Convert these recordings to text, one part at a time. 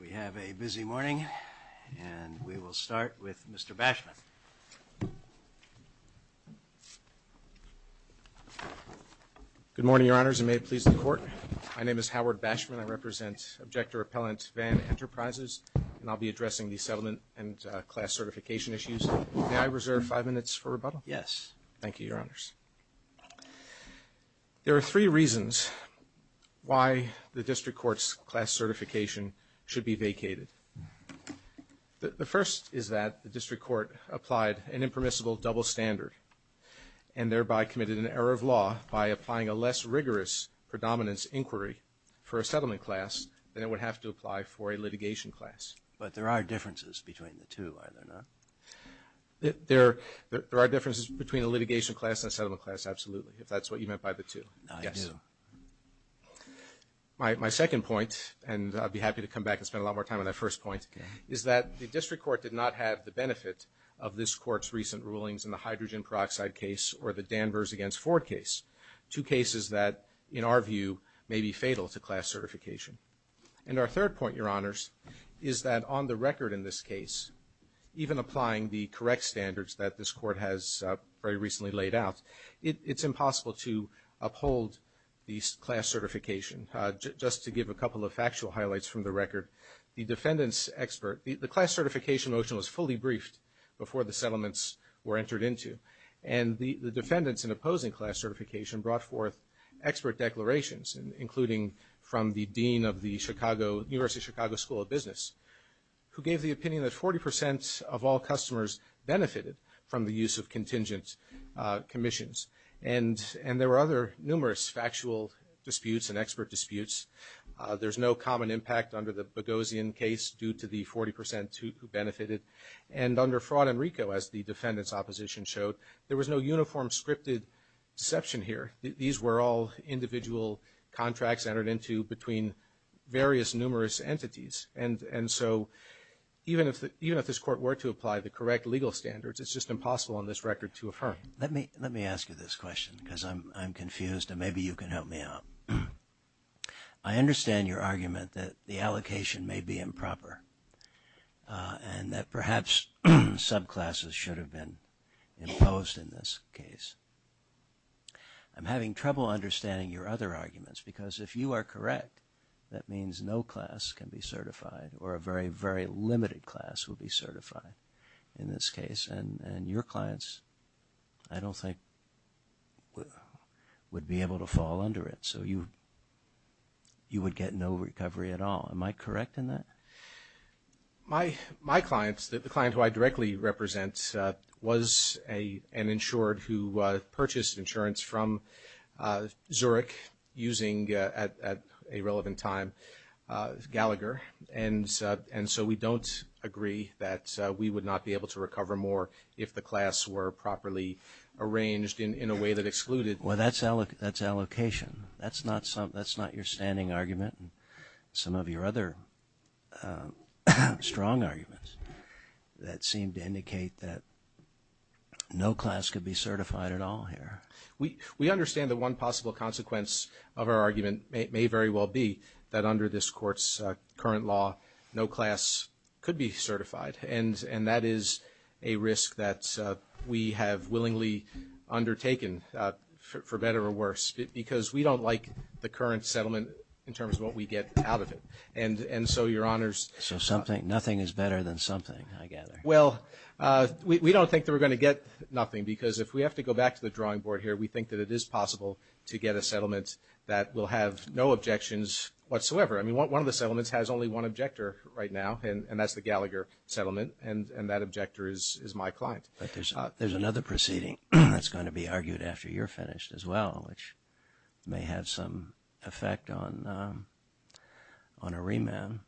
We have a busy morning, and we will start with Mr. Bashman. Good morning, Your Honors, and may it please the Court. My name is Howard Bashman. I represent Objector Appellants Van Enterprises, and I'll be addressing the settlement and class certification issues. May I reserve five minutes for rebuttal? Yes. Thank you, Your Honors. There are three reasons why the District Court's class certification should be vacated. The first is that the District Court applied an impermissible double standard and thereby committed an error of law by applying a less rigorous predominance inquiry for a settlement class than it would have to apply for a litigation class. But there are differences between the two, are there not? There are differences between a litigation class and a settlement class, absolutely, if that's what you meant by the two. My second point, and I'd be happy to come back and spend a lot more time on that first point, is that the District Court did not have the benefit of this Court's recent rulings in the hydrogen peroxide case or the Danvers against Ford case, two cases that, in our view, may be fatal to class certification. And our third point, Your Honors, is that on the record in this case, even applying the correct standards that this Court has very recently laid out, it's impossible to uphold these class certifications. Just to give a couple of factual highlights from the record, the defendant's expert – the class certification motion was fully briefed before the settlements were entered into, and the defendants in opposing class certification brought forth expert declarations, including from the dean of the University of Chicago School of Business, who gave the opinion that 40 percent of all customers benefited from the use of contingent commissions. And there were other numerous factual disputes and expert disputes. There's no common impact under the Boghossian case due to the 40 percent who benefited. And under Fraud and RICO, as the defendant's opposition showed, there was no uniform scripted deception here. These were all individual contracts entered into between various numerous entities. And so even if this Court were to apply the correct legal standards, it's just impossible on this record to affirm. Let me ask you this question because I'm confused, and maybe you can help me out. I understand your argument that the allocation may be improper and that perhaps subclasses should have been imposed in this case. I'm having trouble understanding your other arguments because if you are correct, that means no class can be certified or a very, very limited class will be certified in this case. And your clients, I don't think, would be able to fall under it. So you would get no recovery at all. Am I correct in that? My client, the client who I directly represent, was an insured who purchased insurance from Zurich using, at a relevant time, Gallagher. And so we don't agree that we would not be able to recover more if the class were properly arranged in a way that excluded. Well, that's allocation. That's not your standing argument. Some of your other strong arguments that seem to indicate that no class could be certified at all here. We understand that one possible consequence of our argument may very well be that under this Court's current law, no class could be certified, and that is a risk that we have willingly undertaken, for better or worse, because we don't like the current settlement in terms of what we get out of it. And so, Your Honors, So nothing is better than something, I gather. Well, we don't think that we're going to get nothing because if we have to go back to the drawing board here, we think that it is possible to get a settlement that will have no objections whatsoever. I mean, one of the settlements has only one objector right now, and that's the Gallagher settlement, and that objector is my client. But there's another proceeding that's going to be argued after you're finished as well, which may have some effect on a remand.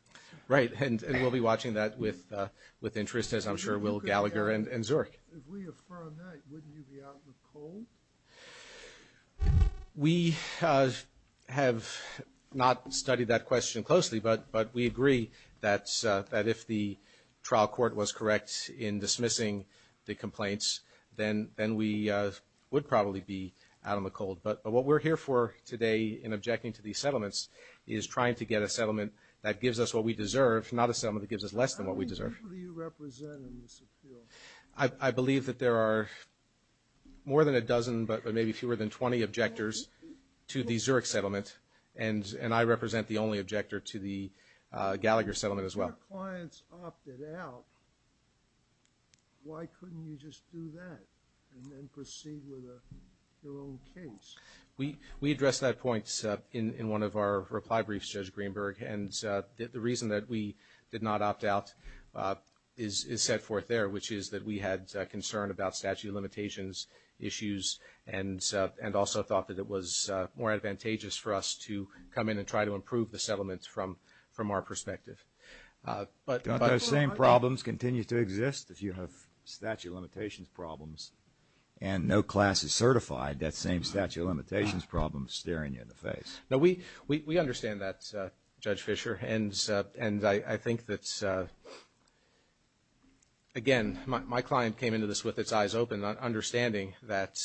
Right, and we'll be watching that with interest, as I'm sure Will, Gallagher, and Zurich. If we affirm that, wouldn't you be out in the cold? We have not studied that question closely, but we agree that if the trial court was correct in dismissing the complaints, then we would probably be out in the cold. But what we're here for today in objecting to these settlements is trying to get a settlement that gives us what we deserve, not a settlement that gives us less than what we deserve. How many people do you represent in this appeal? I believe that there are more than a dozen, but maybe fewer than 20 objectors to the Zurich settlement, and I represent the only objector to the Gallagher settlement as well. If your clients opted out, why couldn't you just do that and then proceed with their own case? We addressed that point in one of our reply briefs, Judge Greenberg, and the reason that we did not opt out is set forth there, which is that we had concern about statute of limitations issues and also thought that it was more advantageous for us to come in and try to improve the settlements from our perspective. Those same problems continue to exist if you have statute of limitations problems and no class is certified, that same statute of limitations problem staring you in the face. We understand that, Judge Fischer, and I think that, again, my client came into this with his eyes open, understanding that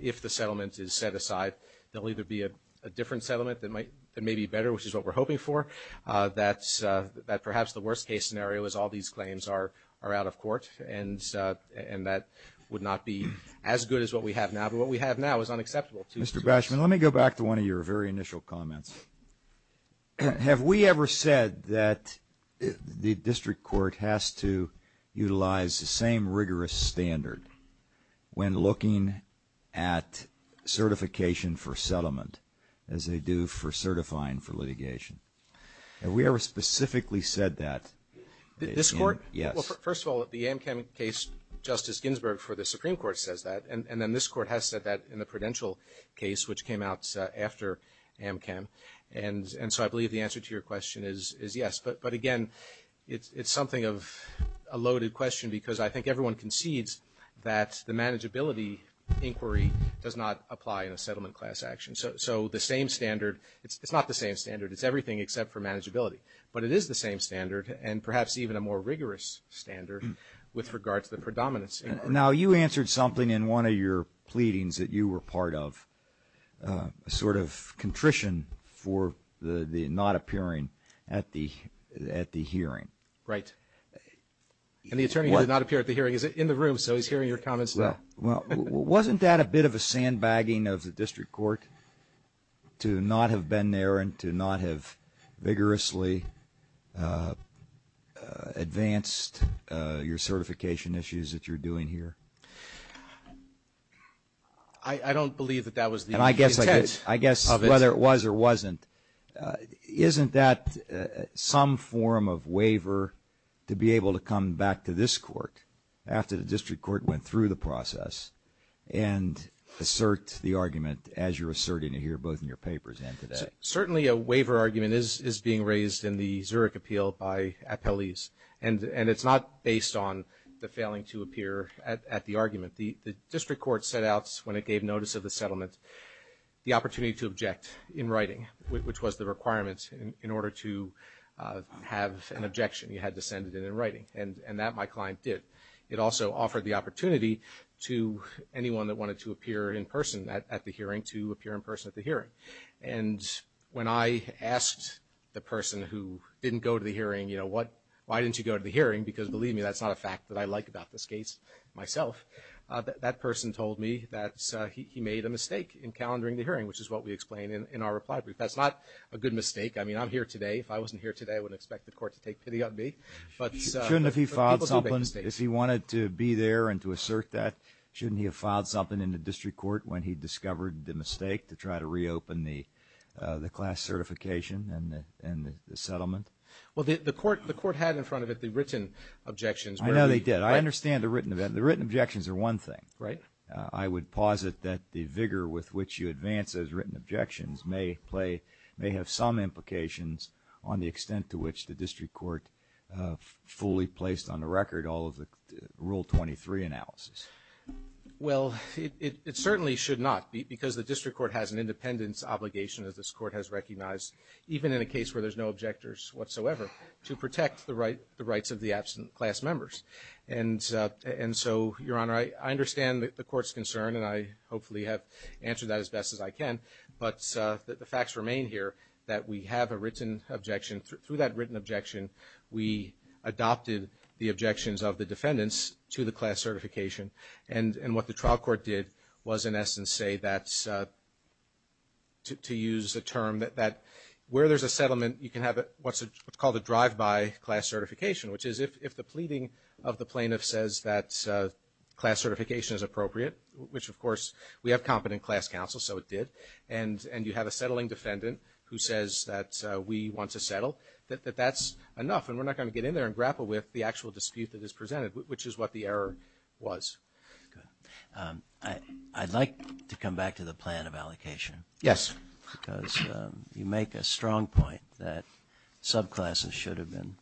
if the settlement is set aside, there will either be a different settlement that may be better, which is what we're hoping for, that perhaps the worst-case scenario is all these claims are out of court, and that would not be as good as what we have now, but what we have now is unacceptable. Mr. Bashman, let me go back to one of your very initial comments. Have we ever said that the district court has to utilize the same rigorous standard when looking at certification for settlement as they do for certifying for litigation? Have we ever specifically said that? This court? Yes. Well, first of all, the Amchem case, Justice Ginsburg for the Supreme Court says that, and then this court has said that in the Prudential case, which came out after Amchem, and so I believe the answer to your question is yes, but, again, it's something of a loaded question because I think everyone concedes that the manageability inquiry does not apply in a settlement class action. So the same standard, it's not the same standard. It's everything except for manageability, but it is the same standard and perhaps even a more rigorous standard with regard to the predominance inquiry. Now, you answered something in one of your pleadings that you were part of, a sort of contrition for the not appearing at the hearing. Right. And the attorney did not appear at the hearing. He's in the room, so he's hearing your comments now. Well, wasn't that a bit of a sandbagging of the district court to not have been there and to not have vigorously advanced your certification issues that you're doing here? I don't believe that that was the intent of it. I guess whether it was or wasn't, isn't that some form of waiver to be able to come back to this court after the district court went through the process and assert the argument, as you're asserting here both in your papers and today? Certainly a waiver argument is being raised in the Zurich appeal by appellees, and it's not based on the failing to appear at the argument. The district court set out when it gave notice of the settlement the opportunity to object in writing, which was the requirement in order to have an objection. You had to send it in writing, and that my client did. It also offered the opportunity to anyone that wanted to appear in person at the hearing to appear in person at the hearing. And when I asked the person who didn't go to the hearing, you know, why didn't you go to the hearing? Because believe me, that's not a fact that I like about this case myself. That person told me that he made a mistake in calendaring the hearing, which is what we explain in our reply brief. That's not a good mistake. I mean, I'm here today. If I wasn't here today, I wouldn't expect the court to take pity on me. If he wanted to be there and to assert that, shouldn't he have filed something in the district court when he discovered the mistake to try to reopen the class certification and the settlement? Well, the court had in front of it the written objections. I know they did. I understand the written objections are one thing. Right. I would posit that the vigor with which you advance those written objections may have some implications on the extent to which the district court fully placed on the record all of the Rule 23 analysis. Well, it certainly should not, because the district court has an independence obligation that this court has recognized, even in a case where there's no objectors whatsoever, to protect the rights of the absent class members. And so, Your Honor, I understand the court's concern, and I hopefully have answered that as best as I can. But the facts remain here that we have a written objection. Through that written objection, we adopted the objections of the defendants to the class certification. And what the trial court did was, in essence, say that's, to use a term, that where there's a settlement, you can have what's called a drive-by class certification, which is if the pleading of the plaintiff says that class certification is appropriate, which, of course, we have competent class counsel, so it did, and you have a settling defendant who says that we want to settle, that that's enough, and we're not going to get in there and grapple with the actual dispute that is presented, which is what the error was. I'd like to come back to the plan of allocation. Yes. Because you make a strong point that subclasses should have been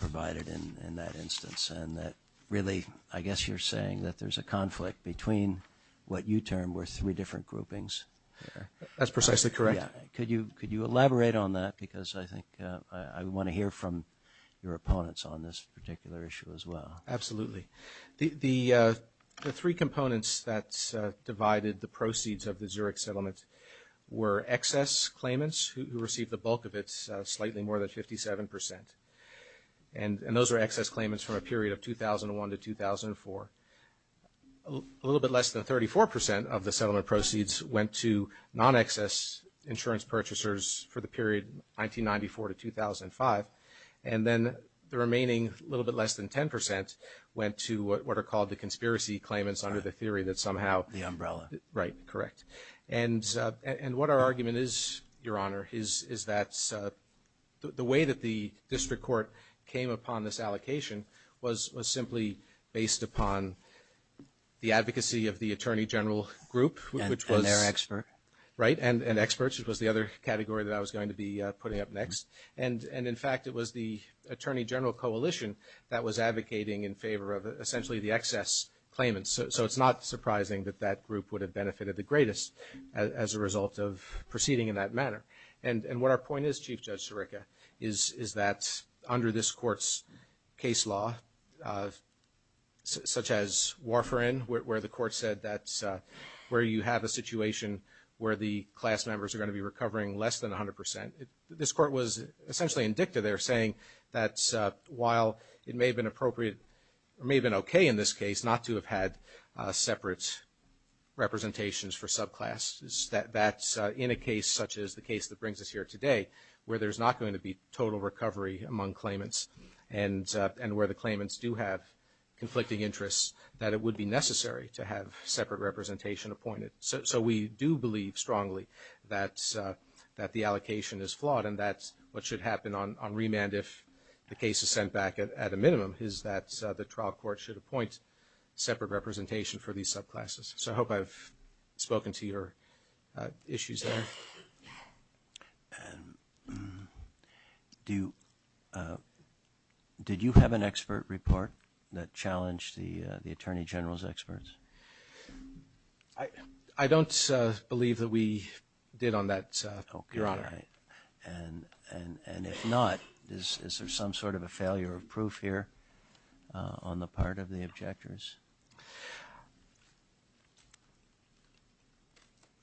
provided in that instance, and that really, I guess you're saying that there's a conflict between what you term were three different groupings. That's precisely correct. Could you elaborate on that? Because I think I want to hear from your opponents on this particular issue as well. Absolutely. The three components that divided the proceeds of the Zurich settlement were excess claimants who received the bulk of it, slightly more than 57 percent, and those are excess claimants from a period of 2001 to 2004. A little bit less than 34 percent of the settlement proceeds went to non-excess insurance purchasers for the period 1994 to 2005, and then the remaining little bit less than 10 percent went to what are called the conspiracy claimants under the theory that somehow. The umbrella. Right, correct. And what our argument is, Your Honor, is that the way that the district court came upon this allocation was simply based upon the advocacy of the attorney general group. And their expert. Right, and experts, which was the other category that I was going to be putting up next. And, in fact, it was the attorney general coalition that was advocating in favor of essentially the excess claimants. So it's not surprising that that group would have benefited the greatest as a result of proceeding in that manner. And what our point is, Chief Judge Sirica, is that under this court's case law, such as Warfarin, where the court said that's where you have a situation where the class members are going to be recovering less than 100 percent, this court was essentially indicted there saying that while it may have been appropriate, it may have been okay in this case not to have had separate representations for subclasses, that in a case such as the case that brings us here today where there's not going to be total recovery among claimants and where the claimants do have conflicting interests, that it would be necessary to have separate representation appointed. So we do believe strongly that the allocation is flawed, and that's what should happen on remand if the case is sent back at a minimum, is that the trial court should appoint separate representation for these subclasses. So I hope I've spoken to your issues there. Did you have an expert report that challenged the Attorney General's experts? I don't believe that we did on that, Your Honor. And if not, is there some sort of a failure of proof here on the part of the objectors?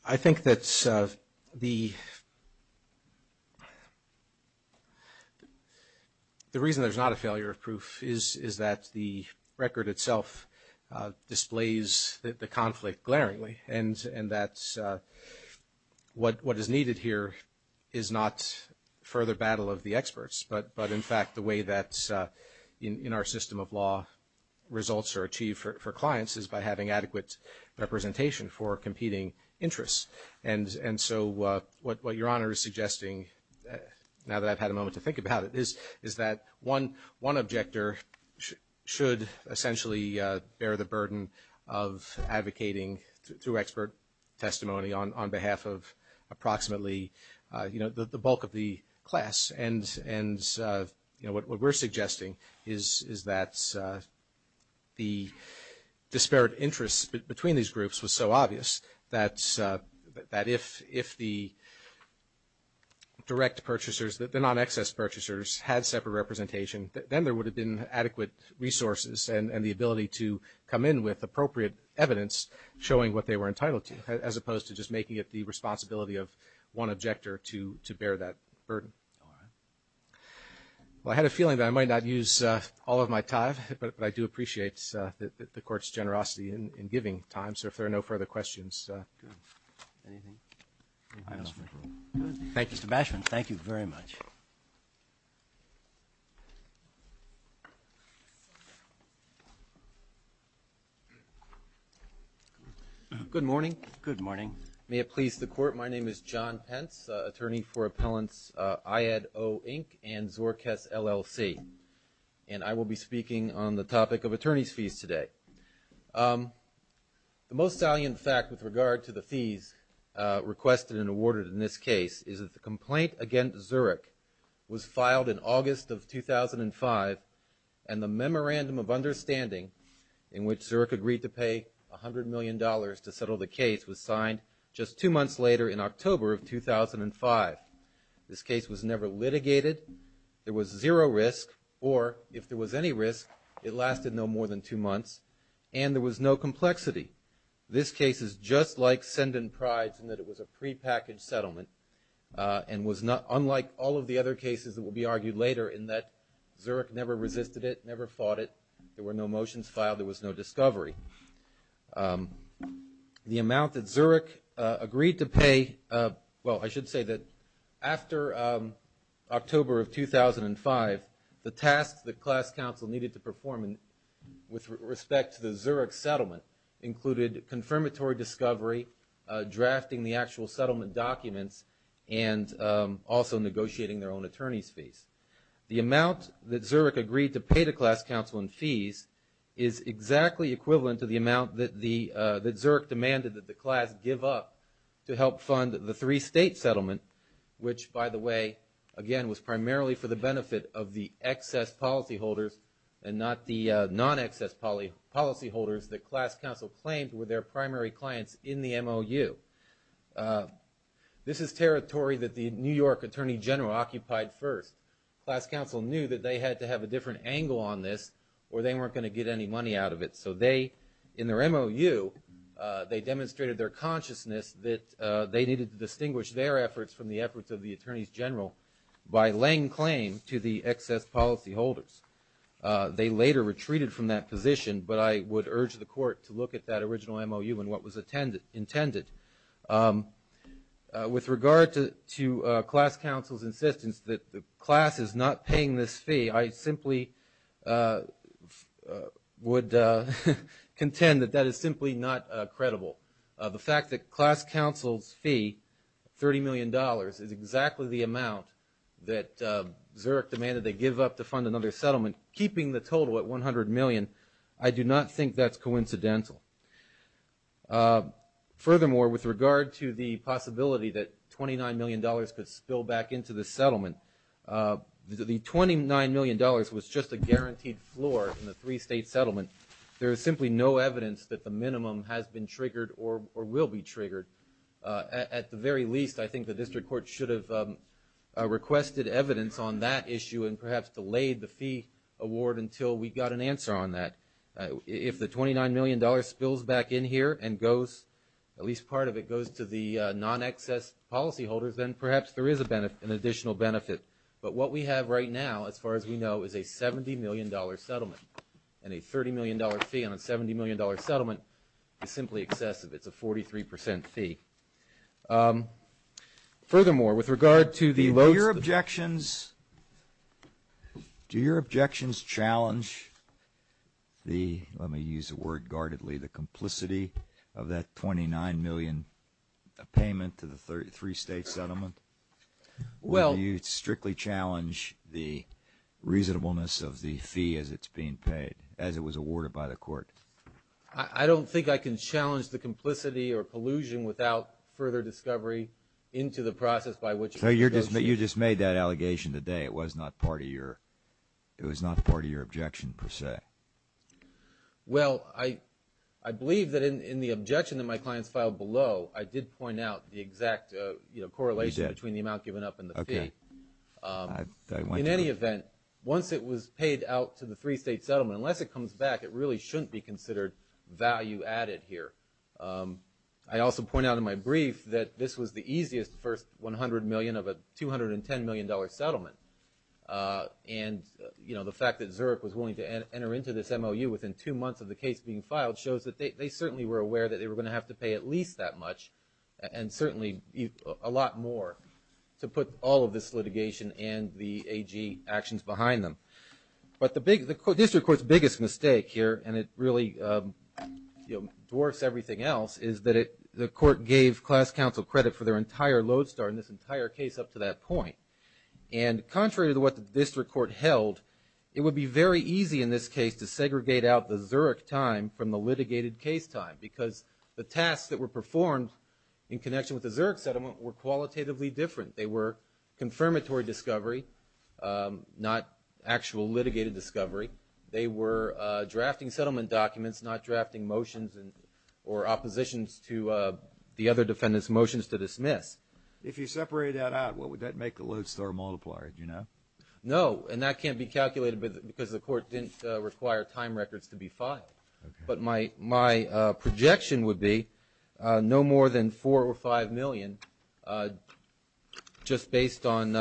I think that the reason there's not a failure of proof is that the record itself displays the conflict glaringly, and that what is needed here is not further battle of the experts, but in fact the way that in our system of law results are achieved for clients is by having adequate representation for competing interests. And so what Your Honor is suggesting, now that I've had a moment to think about it, is that one objector should essentially bear the burden of advocating through expert testimony on behalf of approximately the bulk of the class. And what we're suggesting is that the disparate interest between these groups was so obvious that if the direct purchasers, the non-excess purchasers, had separate representation, then there would have been adequate resources and the ability to come in with appropriate evidence showing what they were entitled to, as opposed to just making it the responsibility of one objector to bear that burden. I had a feeling that I might not use all of my time, but I do appreciate the Court's generosity in giving time. So if there are no further questions. Thank you, Mr. Basham. Thank you very much. Thank you. Good morning. Good morning. May it please the Court, my name is John Pence, attorney for appellants IADO Inc. and Zorkes LLC. And I will be speaking on the topic of attorney's fees today. The most salient fact with regard to the fees requested and awarded in this case is that the complaint against Zurich was filed in August of 2005 and the memorandum of understanding in which Zurich agreed to pay $100 million to settle the case was signed just two months later in October of 2005. This case was never litigated. There was zero risk, or if there was any risk, it lasted no more than two months. And there was no complexity. This case is just like Send and Prize in that it was a prepackaged settlement and was unlike all of the other cases that will be argued later in that Zurich never resisted it, never fought it. There were no motions filed. There was no discovery. The amount that Zurich agreed to pay, well, I should say that after October of 2005, the task that class counsel needed to perform with respect to the Zurich settlement included confirmatory discovery, drafting the actual settlement documents, and also negotiating their own attorney's fees. The amount that Zurich agreed to pay to class counsel in fees is exactly equivalent to the amount that Zurich demanded that the class give up to help fund the three-state settlement, which, by the way, again, was primarily for the benefit of the excess policyholders and not the non-excess policyholders that class counsel claimed were their primary clients in the MOU. This is territory that the New York Attorney General occupied first. Class counsel knew that they had to have a different angle on this or they weren't going to get any money out of it. So in their MOU, they demonstrated their consciousness that they needed to distinguish their efforts from the efforts of the Attorney General by laying claim to the excess policyholders. They later retreated from that position, but I would urge the court to look at that original MOU and what was intended. With regard to class counsel's insistence that the class is not paying this fee, I simply would contend that that is simply not credible. The fact that class counsel's fee, $30 million, is exactly the amount that Zurich demanded they give up to fund another settlement, keeping the total at $100 million, I do not think that's coincidental. Furthermore, with regard to the possibility that $29 million could spill back into the settlement, the $29 million was just a guaranteed floor in the three-state settlement. There is simply no evidence that the minimum has been triggered or will be triggered. At the very least, I think the district court should have requested evidence on that issue and perhaps delayed the fee award until we got an answer on that. If the $29 million spills back in here and goes, at least part of it goes, to the non-excess policyholders, then perhaps there is an additional benefit. But what we have right now, as far as we know, is a $70 million settlement, and a $30 million fee on a $70 million settlement is simply excessive. It's a 43 percent fee. Furthermore, with regard to the lower objections, do your objections challenge the, let me use the word guardedly, the complicity of that $29 million payment to the three-state settlement, or do you strictly challenge the reasonableness of the fee as it's being paid, as it was awarded by the court? I don't think I can challenge the complicity or collusion without further discovery into the process by which it was proposed. You just made that allegation today. It was not part of your objection, per se. Well, I believe that in the objection that my client filed below, I did point out the exact correlation between the amount given up and the fee. In any event, once it was paid out to the three-state settlement, unless it comes back, it really shouldn't be considered value added here. I also pointed out in my brief that this was the easiest for $100 million of a $210 million settlement. And, you know, the fact that Zurich was willing to enter into this MOU within two months of the case being filed shows that they certainly were aware that they were going to have to pay at least that much, and certainly a lot more to put all of this litigation and the AG actions behind them. But the district court's biggest mistake here, and it really dwarfs everything else, is that the court gave class counsel credit for their entire lodestar in this entire case up to that point. And contrary to what the district court held, it would be very easy in this case to segregate out the Zurich time from the litigated case time because the tasks that were performed in connection with the Zurich settlement were qualitatively different. They were confirmatory discovery, not actual litigated discovery. They were drafting settlement documents, not drafting motions or oppositions to the other defendant's motions to dismiss. If you separated that out, what would that make the lodestar multiplier, do you know? No, and that can't be calculated because the court didn't require time records to be filed. But my projection would be no more than $4 or $5 million just based on,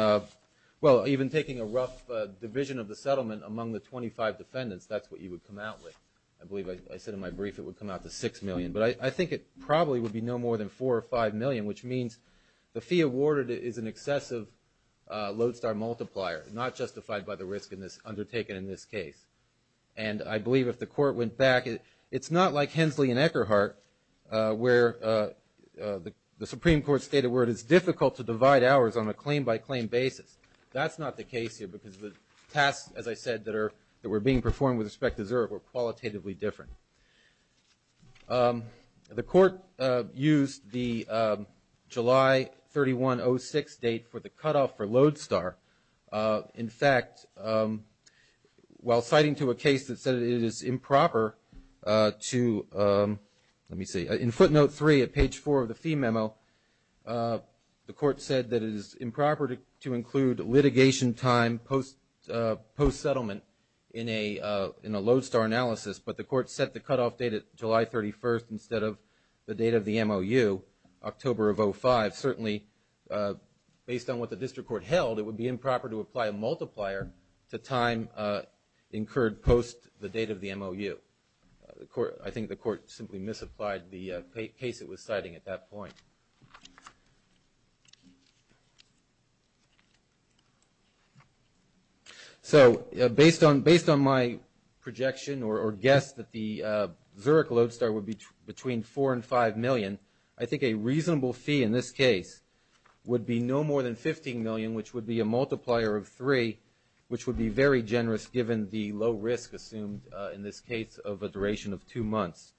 well, even taking a rough division of the settlement among the 25 defendants, that's what you would come out with. I believe I said in my brief it would come out to $6 million. But I think it probably would be no more than $4 or $5 million, which means the fee awarded is an excessive lodestar multiplier, not justified by the risk undertaken in this case. And I believe if the court went back, it's not like Hensley and Eckerhart where the Supreme Court stated where it is difficult to divide hours on a claim-by-claim basis. That's not the case here because the tasks, as I said, that were being performed with respect to Zurich were qualitatively different. The court used the July 3106 date for the cutoff for lodestar. In fact, while citing to a case that said it is improper to, let me see, in footnote 3 at page 4 of the fee memo, the court said that it is improper to include litigation time post-settlement in a lodestar analysis. But the court set the cutoff date at July 31st instead of the date of the MOU, October of 2005. Certainly, based on what the district court held, it would be improper to apply a multiplier to time incurred post the date of the MOU. I think the court simply misapplied the case it was citing at that point. So based on my projection or guess that the Zurich lodestar would be between $4 and $5 million, I think a reasonable fee in this case would be no more than $15 million, which would be a multiplier of three, which would be very generous given the low risk assumed in this case of a duration of two months.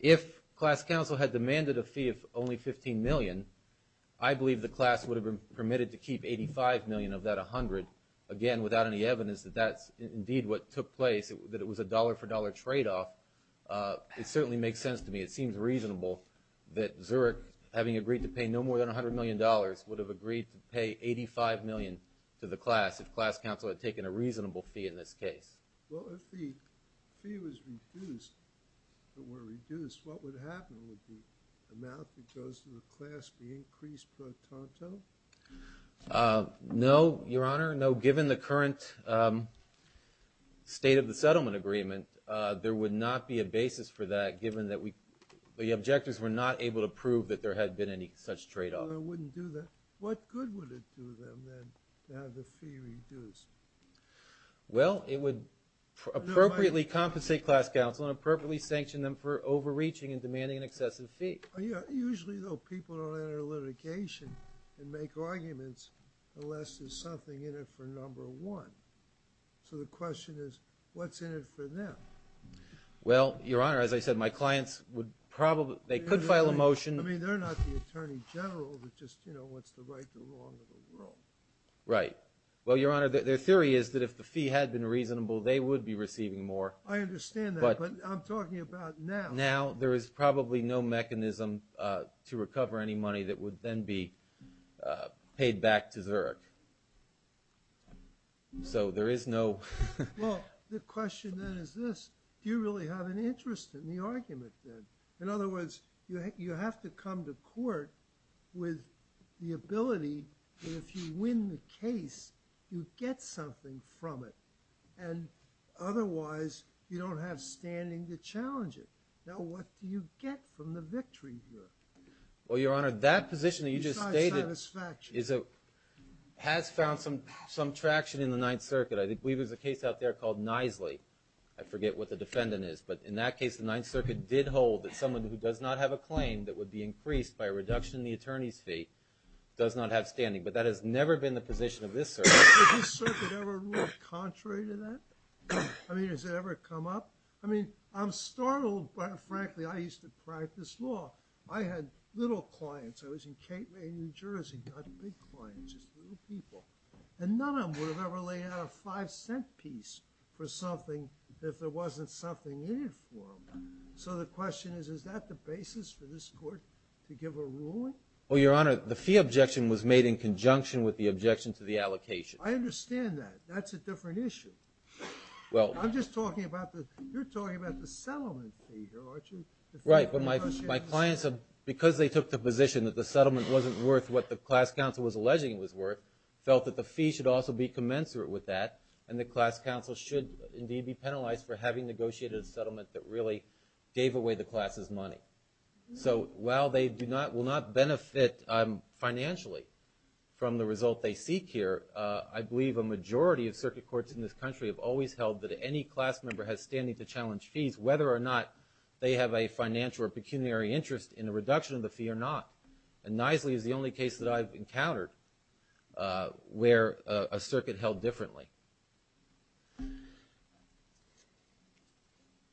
If class counsel had demanded a fee of only $15 million, I believe the class would have been permitted to keep $85 million of that $100 million, again, without any evidence that that's indeed what took place, that it was a dollar-for-dollar tradeoff. It certainly makes sense to me. It seems reasonable that Zurich, having agreed to pay no more than $100 million, would have agreed to pay $85 million to the class if class counsel had taken a reasonable fee in this case. No, Your Honor. No, given the current state of the settlement agreement, there would not be a basis for that, given that the objectives were not able to prove that there had been any such tradeoff. Well, it would appropriately compensate class counsel and appropriately sanction them for overreaching and demanding an excessive fee. Well, Your Honor, as I said, my clients would probably, they could file a motion. Right. Well, Your Honor, their theory is that if the fee had been reasonable, they would be receiving more. I understand that, but I'm talking about now. Now, there is probably no mechanism to recover any money that would then be paid back to Zurich. So there is no... Well, the question then is this. Do you really have an interest in the argument, then? In other words, you have to come to court with the ability that if you win the case, you get something from it. And otherwise, you don't have standing to challenge it. Now, what do you get from the victory here? Well, Your Honor, that position that you just stated has found some traction in the Ninth Circuit. I think we have a case out there called Knisley. I forget what the defendant is. But in that case, the Ninth Circuit did hold that someone who does not have a claim that would be increased by a reduction in the attorney's fee does not have standing. But that has never been the position of this court. Has the Ninth Circuit ever ruled contrary to that? I mean, has it ever come up? I mean, I'm startled. Frankly, I used to practice law. I had little clients. I was in Cape May, New Jersey. I had big clients. Just little people. And none of them would have ever laid out a five-cent piece for something if there wasn't something in it for them. So the question is, is that the basis for this court to give a ruling? Well, Your Honor, the fee objection was made in conjunction with the objection to the allocation. I understand that. That's a different issue. I'm just talking about this. You're talking about the settlement fee, though, aren't you? Right. My clients, because they took the position that the settlement wasn't worth what the class counsel was alleging it was worth, felt that the fee should also be commensurate with that and the class counsel should indeed be penalized for having negotiated a settlement that really gave away the class's money. So while they will not benefit financially from the result they seek here, I believe a majority of circuit courts in this country have always held that any class member has standing to challenge fees, whether or not they have a financial or pecuniary interest in the reduction of the fee or not. And Knisley is the only case that I've encountered where a circuit held differently.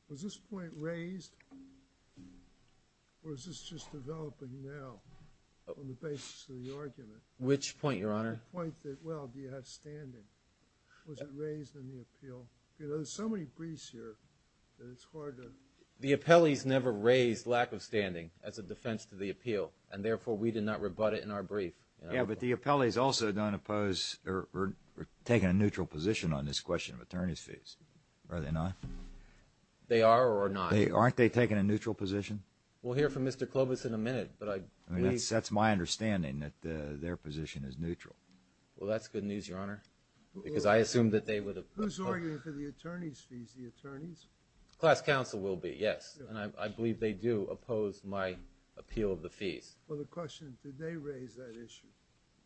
Was this point raised or is this just developing now on the basis of the argument? Which point, Your Honor? The point that, well, do you have standing? Was it raised in the appeal? There's so many briefs here that it's hard to… The appellees never raised lack of standing as a defense to the appeal, and therefore we did not rebut it in our brief. Yeah, but the appellees also don't oppose or are taking a neutral position on this question of attorney's fees. Are they not? They are or are not. Aren't they taking a neutral position? We'll hear from Mr. Clovis in a minute, but I… That's my understanding, that their position is neutral. Well, that's good news, Your Honor, because I assumed that they would… Who's arguing for the attorney's fees, the attorneys? Class counsel will be, yes, and I believe they do oppose my appeal of the fees. Well, the question is, did they raise that issue?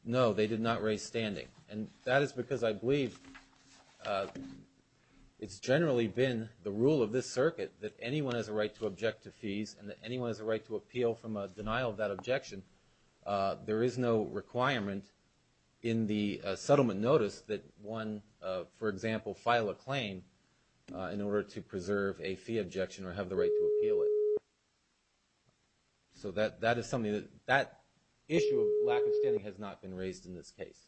No, they did not raise standing, and that is because I believe it's generally been the rule of this circuit that anyone has a right to object to fees and that anyone has a right to appeal from a denial of that objection. There is no requirement in the settlement notice that one, for example, file a claim in order to preserve a fee objection or have the right to appeal it. So that is something that… that issue of lack of standing has not been raised in this case.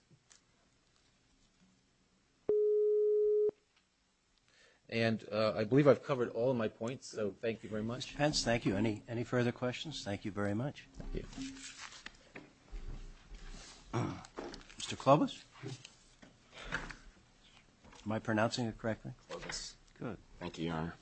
And I believe I've covered all of my points, so thank you very much. Mr. Pence, thank you. Any further questions? Thank you very much. Thank you. Mr. Clovis? Am I pronouncing it correctly? Clovis. Good. Thank you, Your Honor.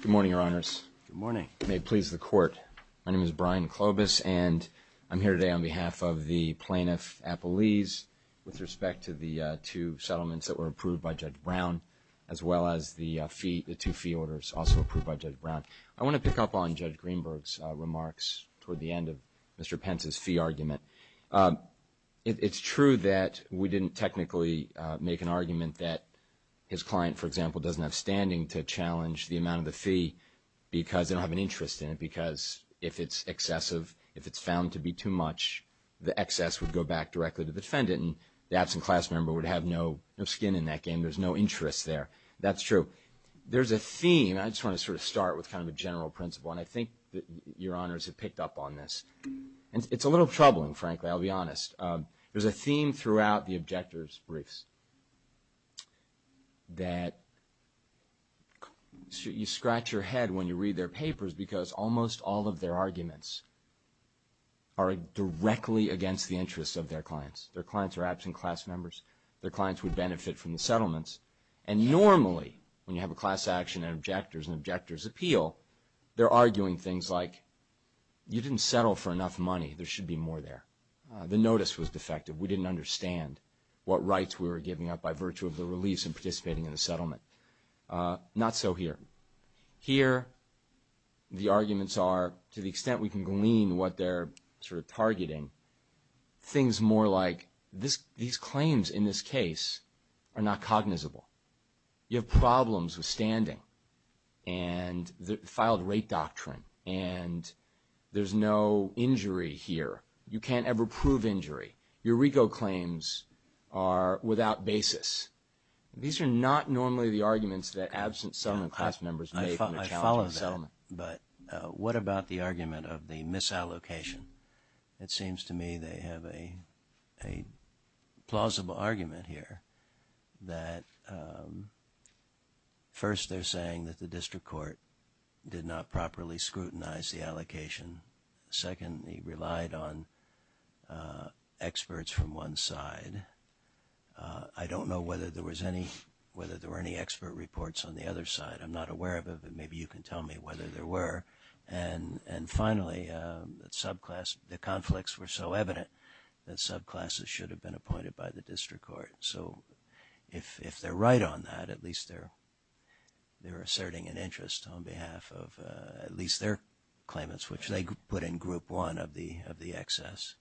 Good morning, Your Honors. Good morning. May it please the Court. My name is Brian Clovis, and I'm here today on behalf of the plaintiff, Appleese, with respect to the two settlements that were approved by Judge Brown, as well as the fee… the two fee orders also approved by Judge Brown. I want to pick up on Judge Greenberg's remarks toward the end of Mr. Pence's fee argument. It's true that we didn't technically make an argument that his client, for example, doesn't have standing to challenge the amount of the fee because they don't have an interest in it, because if it's excessive, if it's found to be too much, the excess would go back directly to the defendant, and the absent class member would have no skin in that game. There's no interest there. That's true. There's a theme. I just want to sort of start with kind of a general principle, and I think Your Honors have picked up on this. And it's a little troubling, frankly, I'll be honest. There's a theme throughout the objectors' briefs that you scratch your head when you read their papers because almost all of their arguments are directly against the interests of their clients. Their clients are absent class members. Their clients would benefit from the settlements. And normally when you have a class action and objectors and objectors appeal, they're arguing things like you didn't settle for enough money. There should be more there. The notice was defective. We didn't understand what rights we were giving up by virtue of the release and participating in the settlement. Not so here. Here the arguments are to the extent we can glean what they're sort of targeting, things more like these claims in this case are not cognizable. You have problems with standing and filed rate doctrine, and there's no injury here. You can't ever prove injury. Your RICO claims are without basis. These are not normally the arguments that absent settlement class members make. I follow that, but what about the argument of the misallocation? It seems to me they have a plausible argument here, that first they're saying that the district court did not properly scrutinize the allocation. Second, they relied on experts from one side. I don't know whether there were any expert reports on the other side. I'm not aware of it, but maybe you can tell me whether there were. And finally, the conflicts were so evident that subclasses should have been appointed by the district court. So if they're right on that, at least they're asserting an interest on behalf of at least their claimants, which they put in group one of the excess.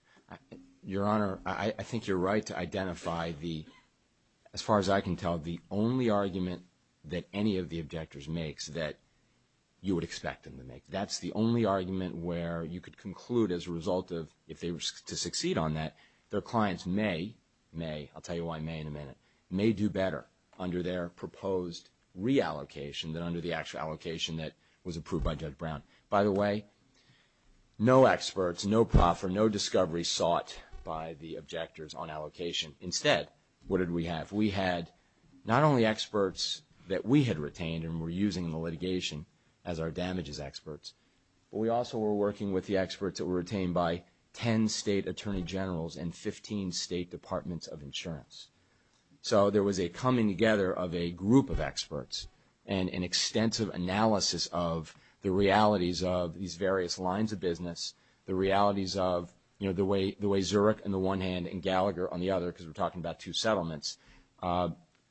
Your Honor, I think you're right to identify the, as far as I can tell, are the only argument that any of the objectors makes that you would expect them to make. That's the only argument where you could conclude as a result of, if they were to succeed on that, their clients may, may, I'll tell you why may in a minute, may do better under their proposed reallocation than under the actual allocation that was approved by Judge Brown. By the way, no experts, no profit, no discovery sought by the objectors on allocation. Instead, what did we have? We had not only experts that we had retained and were using in the litigation as our damages experts, but we also were working with the experts that were retained by 10 state attorney generals and 15 state departments of insurance. So there was a coming together of a group of experts and an extensive analysis of the realities of these various lines of business, the realities of, you know, the way Zurich on the one hand and Gallagher on the other, because we're talking about two settlements,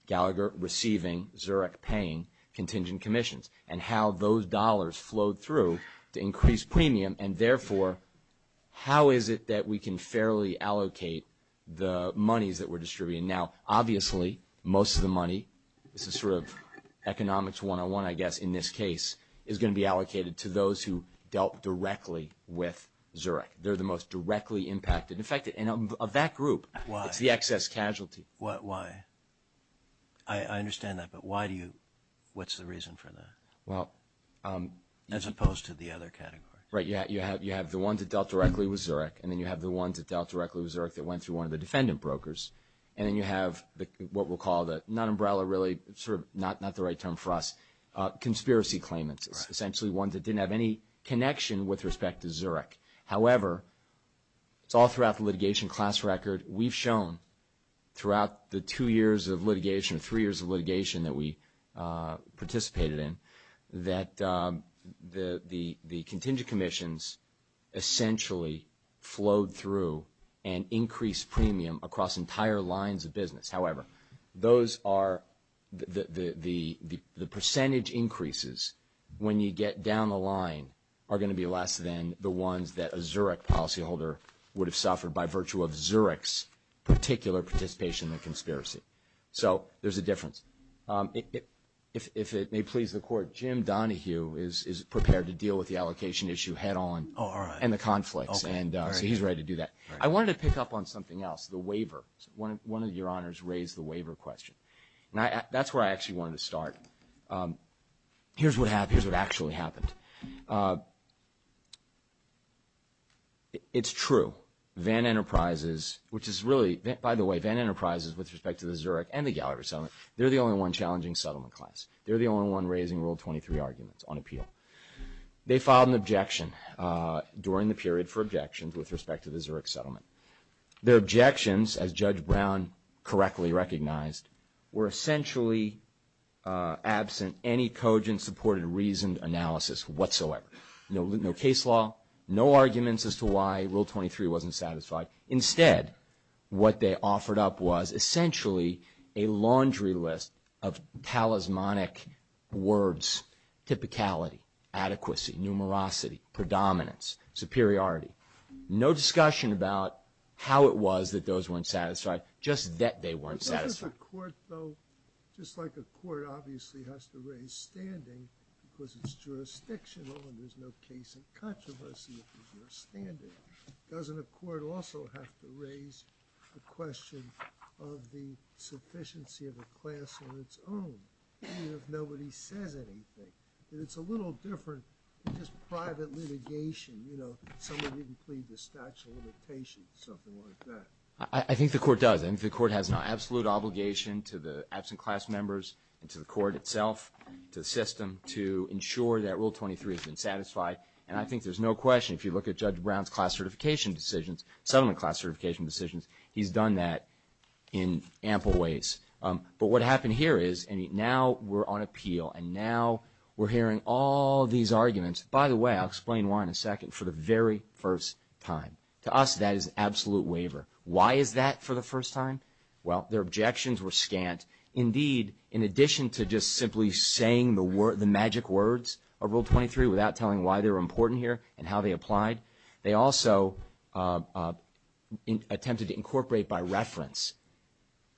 Gallagher receiving, Zurich paying contingent commissions and how those dollars flowed through to increase premium and therefore how is it that we can fairly allocate the monies that were distributed. Now, obviously, most of the money, this is sort of economics 101, I guess, in this case, is going to be allocated to those who dealt directly with Zurich. They're the most directly impacted. In fact, of that group, it's the excess casualty. Why? I understand that, but why do you – what's the reason for that as opposed to the other categories? Right. You have the ones that dealt directly with Zurich, and then you have the ones that dealt directly with Zurich that went to one of the defendant brokers, and then you have what we'll call the non-umbrella really, sort of not the right term for us, conspiracy claimants, essentially ones that didn't have any connection with respect to Zurich. However, it's all throughout the litigation class record. We've shown throughout the two years of litigation, three years of litigation that we participated in, that the contingent commissions essentially flowed through and increased premium across entire lines of business. However, those are – the percentage increases when you get down the line are going to be less than the ones that a Zurich policyholder would have suffered by virtue of Zurich's particular participation in the conspiracy. So there's a difference. If it may please the Court, Jim Donahue is prepared to deal with the allocation issue head on and the conflicts, and he's ready to do that. I wanted to pick up on something else, the waiver. One of your honors raised the waiver question, and that's where I actually wanted to start. Here's what actually happened. It's true. Van Enterprises, which is really – by the way, Van Enterprises, with respect to the Zurich and the Gallagher settlement, they're the only one challenging settlement claims. They're the only one raising Rule 23 arguments on appeal. They filed an objection during the period for objections with respect to the Zurich settlement. The objections, as Judge Brown correctly recognized, were essentially absent any cogent, supported, reasoned analysis whatsoever. No case law, no arguments as to why Rule 23 wasn't satisfied. Instead, what they offered up was essentially a laundry list of talismanic words, typicality, adequacy, numerosity, predominance, superiority. No discussion about how it was that those weren't satisfied, just that they weren't satisfied. Does a court, though, just like a court obviously has to raise standing because it's jurisdictional and there's no case in controversy if there's no standing, doesn't a court also have to raise the question of the sufficiency of the class on its own, even if nobody said anything? It's a little different than just private litigation. You know, someone didn't plead the statute of limitations or something like that. I think the court does. I think the court has an absolute obligation to the absent class members and to the court itself, to the system, to ensure that Rule 23 has been satisfied. And I think there's no question if you look at Judge Brown's class certification decisions, settlement class certification decisions, he's done that in ample ways. But what happened here is now we're on appeal and now we're hearing all these arguments. By the way, I'll explain why in a second, for the very first time. To us, that is an absolute waiver. Why is that for the first time? Well, their objections were scant. Indeed, in addition to just simply saying the magic words of Rule 23 without telling why they were important here and how they applied, they also attempted to incorporate by reference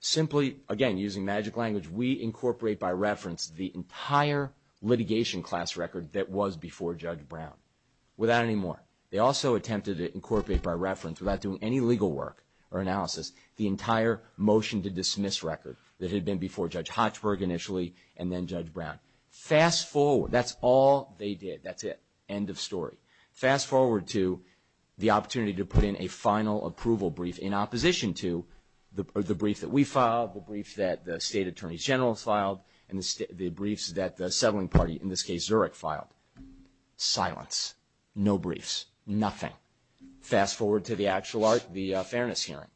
simply, again, using magic language, we incorporate by reference the entire litigation class record that was before Judge Brown. Without any more. They also attempted to incorporate by reference, without doing any legal work or analysis, the entire motion to dismiss record that had been before Judge Hochberg initially and then Judge Brown. Fast forward. That's all they did. That's it. End of story. Fast forward to the opportunity to put in a final approval brief in opposition to the brief that we filed, the brief that the State Attorney General filed, and the briefs that the settling party, in this case, Zurich, filed. Silence. No briefs. Nothing. Fast forward to the fairness hearing.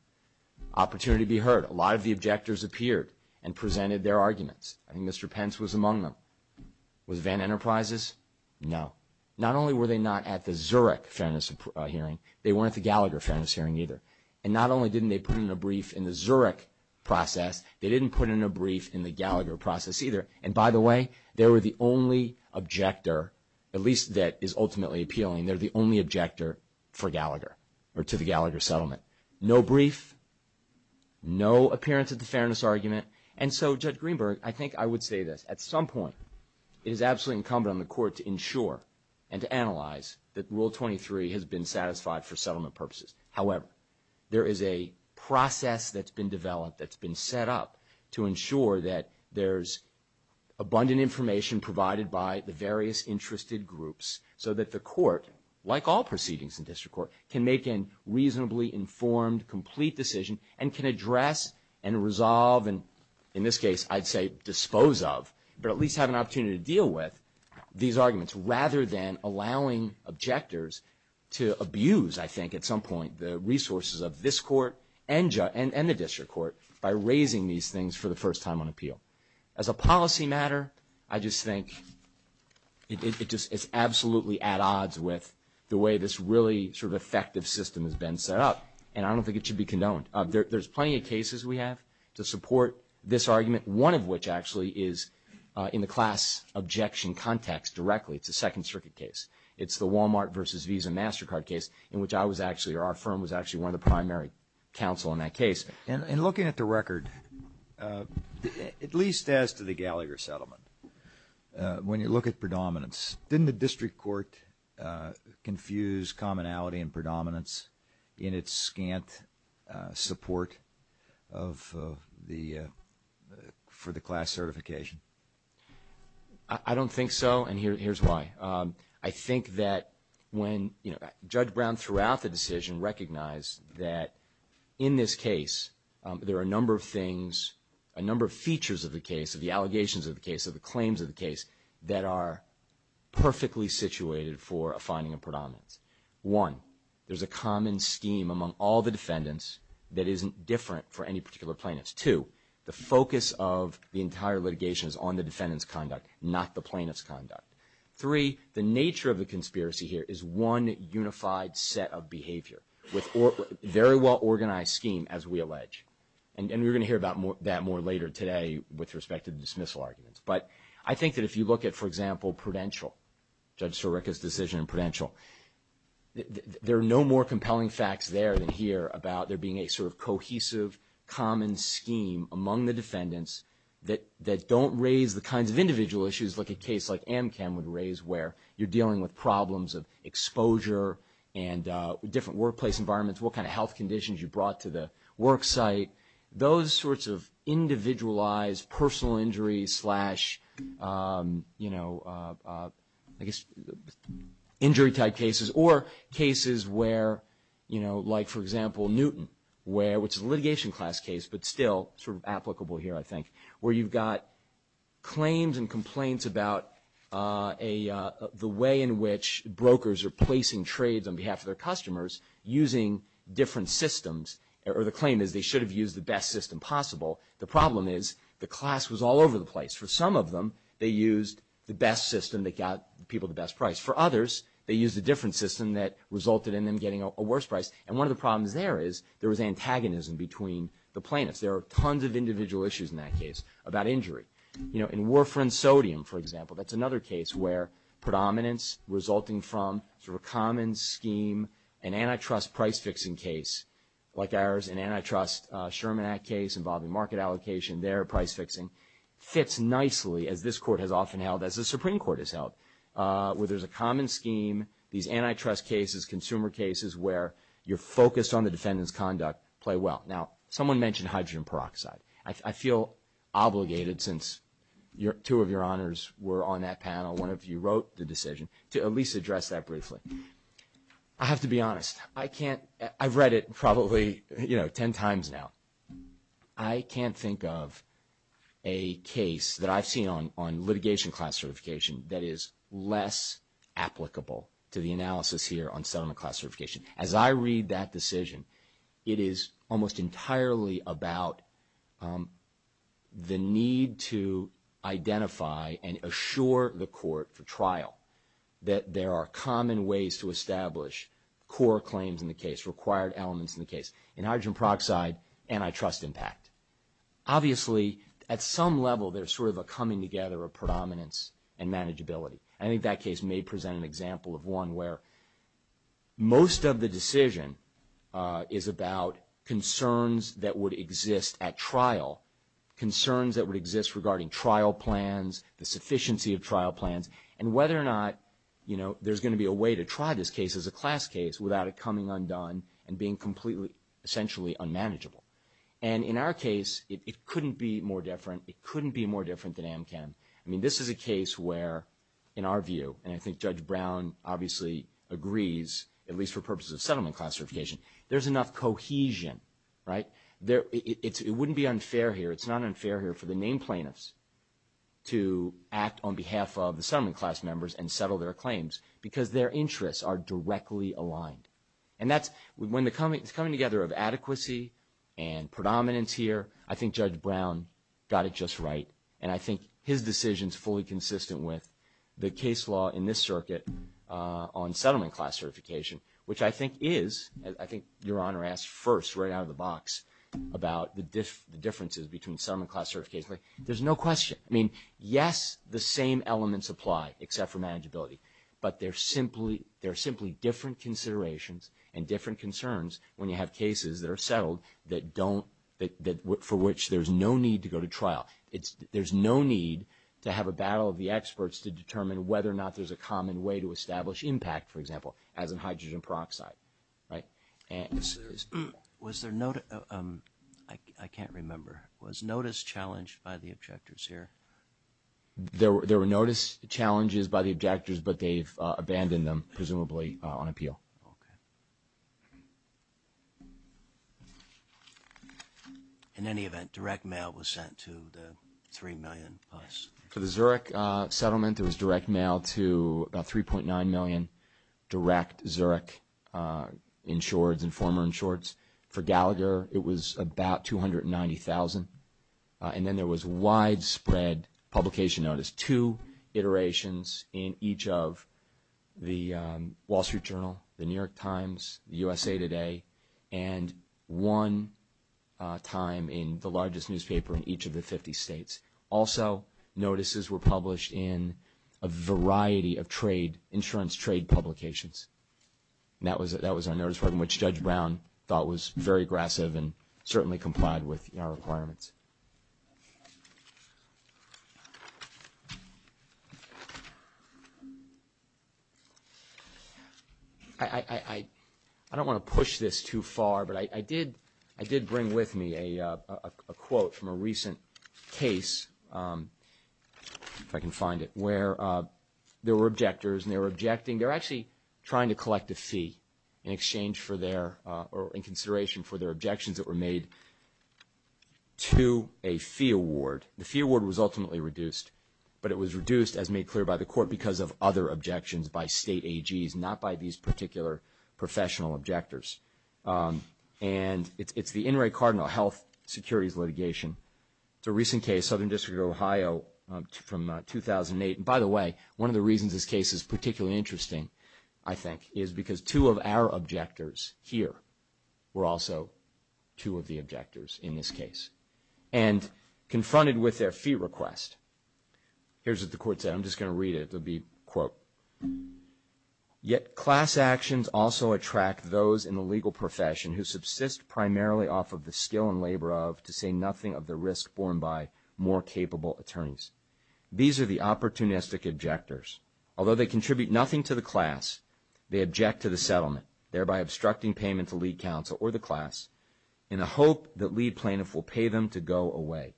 Opportunity to be heard. A lot of the objectors appeared and presented their arguments. I think Mr. Pence was among them. Was Van Enterprises? No. Not only were they not at the Zurich fairness hearing, they weren't at the Gallagher fairness hearing either. And not only didn't they put in a brief in the Zurich process, they didn't put in a brief in the Gallagher process either. And by the way, they were the only objector, at least that is ultimately appealing, they're the only objector for Gallagher or to the Gallagher settlement. No brief. No appearance at the fairness argument. And so, Judge Greenberg, I think I would say this. At some point, it is absolutely incumbent on the Court to ensure and to analyze that Rule 23 has been satisfied for settlement purposes. However, there is a process that's been developed, that's been set up, to ensure that there's abundant information provided by the various interested groups so that the Court, like all proceedings in district court, can make a reasonably informed, complete decision and can address and resolve and, in this case, I'd say dispose of, but at least have an opportunity to deal with these arguments rather than allowing objectors to abuse, I think, at some point the resources of this Court and the district court by raising these things for the first time on appeal. As a policy matter, I just think it's absolutely at odds with the way this really effective system has been set up, and I don't think it should be condoned. There's plenty of cases we have to support this argument, one of which actually is in the class objection context directly, it's a Second Circuit case. It's the Walmart versus Visa MasterCard case in which I was actually, or our firm was actually one of the primary counsel in that case. And looking at the record, at least as to the Gallagher settlement, when you look at predominance, didn't the district court confuse commonality and predominance in its scant support for the class certification? I don't think so, and here's why. I think that when Judge Brown throughout the decision recognized that in this case there are a number of things, a number of features of the case, of the allegations of the case, of the claims of the case, that are perfectly situated for a finding of predominance. One, there's a common scheme among all the defendants that isn't different for any particular plaintiffs. Two, the focus of the entire litigation is on the defendant's conduct, not the plaintiff's conduct. Three, the nature of the conspiracy here is one unified set of behavior with very well-organized scheme, as we allege. And we're going to hear about that more later today with respect to dismissal arguments. But I think that if you look at, for example, Prudential, Judge Sirica's decision in Prudential, there are no more compelling facts there than here about there being a sort of cohesive, common scheme among the defendants that don't raise the kinds of individual issues like a case like AMCAM would raise, where you're dealing with problems of exposure and different workplace environments, what kind of health conditions you brought to the work site, those sorts of individualized personal injuries slash, you know, I guess injury-type cases or cases where, you know, like, for example, Newton, where it's a litigation class case but still sort of applicable here, I think, where you've got claims and complaints about the way in which brokers are placing trades on behalf of their customers using different systems, or the claim is they should have used the best system possible. The problem is the class was all over the place. For some of them, they used the best system that got people the best price. For others, they used a different system that resulted in them getting a worse price. And one of the problems there is there was antagonism between the plaintiffs. There are tons of individual issues in that case about injury. You know, in Warfarin Sodium, for example, that's another case where predominance resulting from a common scheme, an antitrust price-fixing case like ours, an antitrust Sherman Act case involving market allocation there, price-fixing, fits nicely as this Court has often held, as the Supreme Court has held, where there's a common scheme, these antitrust cases, consumer cases where you're focused on the defendant's conduct play well. Now, someone mentioned hydrogen peroxide. I feel obligated since two of your honors were on that panel, one of you wrote the decision, to at least address that briefly. I have to be honest. I can't. I've read it probably, you know, ten times now. I can't think of a case that I've seen on litigation class certification that is less applicable to the analysis here on settlement class certification. As I read that decision, it is almost entirely about the need to identify and assure the Court for trial that there are common ways to establish core claims in the case, required elements in the case. In hydrogen peroxide, antitrust impact. Obviously, at some level, there's sort of a coming together of predominance and manageability. I think that case may present an example of one where most of the decision is about concerns that would exist at trial, concerns that would exist regarding trial plans, the sufficiency of trial plans, and whether or not, you know, there's going to be a way to try this case as a class case without it coming undone and being completely essentially unmanageable. And in our case, it couldn't be more different. It couldn't be more different than AMCAM. I mean, this is a case where, in our view, and I think Judge Brown obviously agrees, at least for purposes of settlement class certification, there's enough cohesion, right? It wouldn't be unfair here. It's not unfair here for the named plaintiffs to act on behalf of the settlement class members and settle their claims because their interests are directly aligned. And when the coming together of adequacy and predominance here, I think Judge Brown got it just right, and I think his decision is fully consistent with the case law in this circuit on settlement class certification, which I think is, I think Your Honor asked first right out of the box about the differences between settlement class certification. There's no question. I mean, yes, the same elements apply except for manageability, but they're simply different considerations and different concerns when you have cases that are settled for which there's no need to go to trial. There's no need to have a battle of the experts to determine whether or not there's a common way to establish impact, for example, as in hydrogen peroxide, right? Was there – I can't remember. Was notice challenged by the objectors here? There were notice challenges by the objectors, but they've abandoned them presumably on appeal. Okay. Thank you. In any event, direct mail was sent to the $3 million. For the Zurich settlement, it was direct mail to about $3.9 million, direct Zurich insured and former insureds. For Gallagher, it was about $290,000, and then there was widespread publication notice, two iterations in each of the Wall Street Journal, the New York Times, the USA Today, and one time in the largest newspaper in each of the 50 states. Also, notices were published in a variety of trade, insurance trade publications. That was a notice from which Judge Brown thought was very aggressive and certainly complied with our requirements. I don't want to push this too far, but I did bring with me a quote from a recent case, if I can find it, where there were objectors and they were objecting. They were actually trying to collect a fee in exchange for their – or in consideration for their objections that were made to a fee award. The fee award was ultimately reduced, but it was reduced, as made clear by the court, because of other objections by state AGs, not by these particular professional objectors. And it's the Inouye Cardinal Health Securities litigation. It's a recent case, Southern District of Ohio from 2008. And by the way, one of the reasons this case is particularly interesting, I think, is because two of our objectors here were also two of the objectors in this case. And confronted with their fee request, here's what the court said. I'm just going to read it. It would be, quote, Yet class actions also attract those in the legal profession who subsist primarily off of the skill and labor of, to say nothing of, the risk formed by more capable attorneys. These are the opportunistic objectors. Although they contribute nothing to the class, they object to the settlement, thereby obstructing payment to lead counsel or the class, in a hope that lead plaintiff will pay them to go away.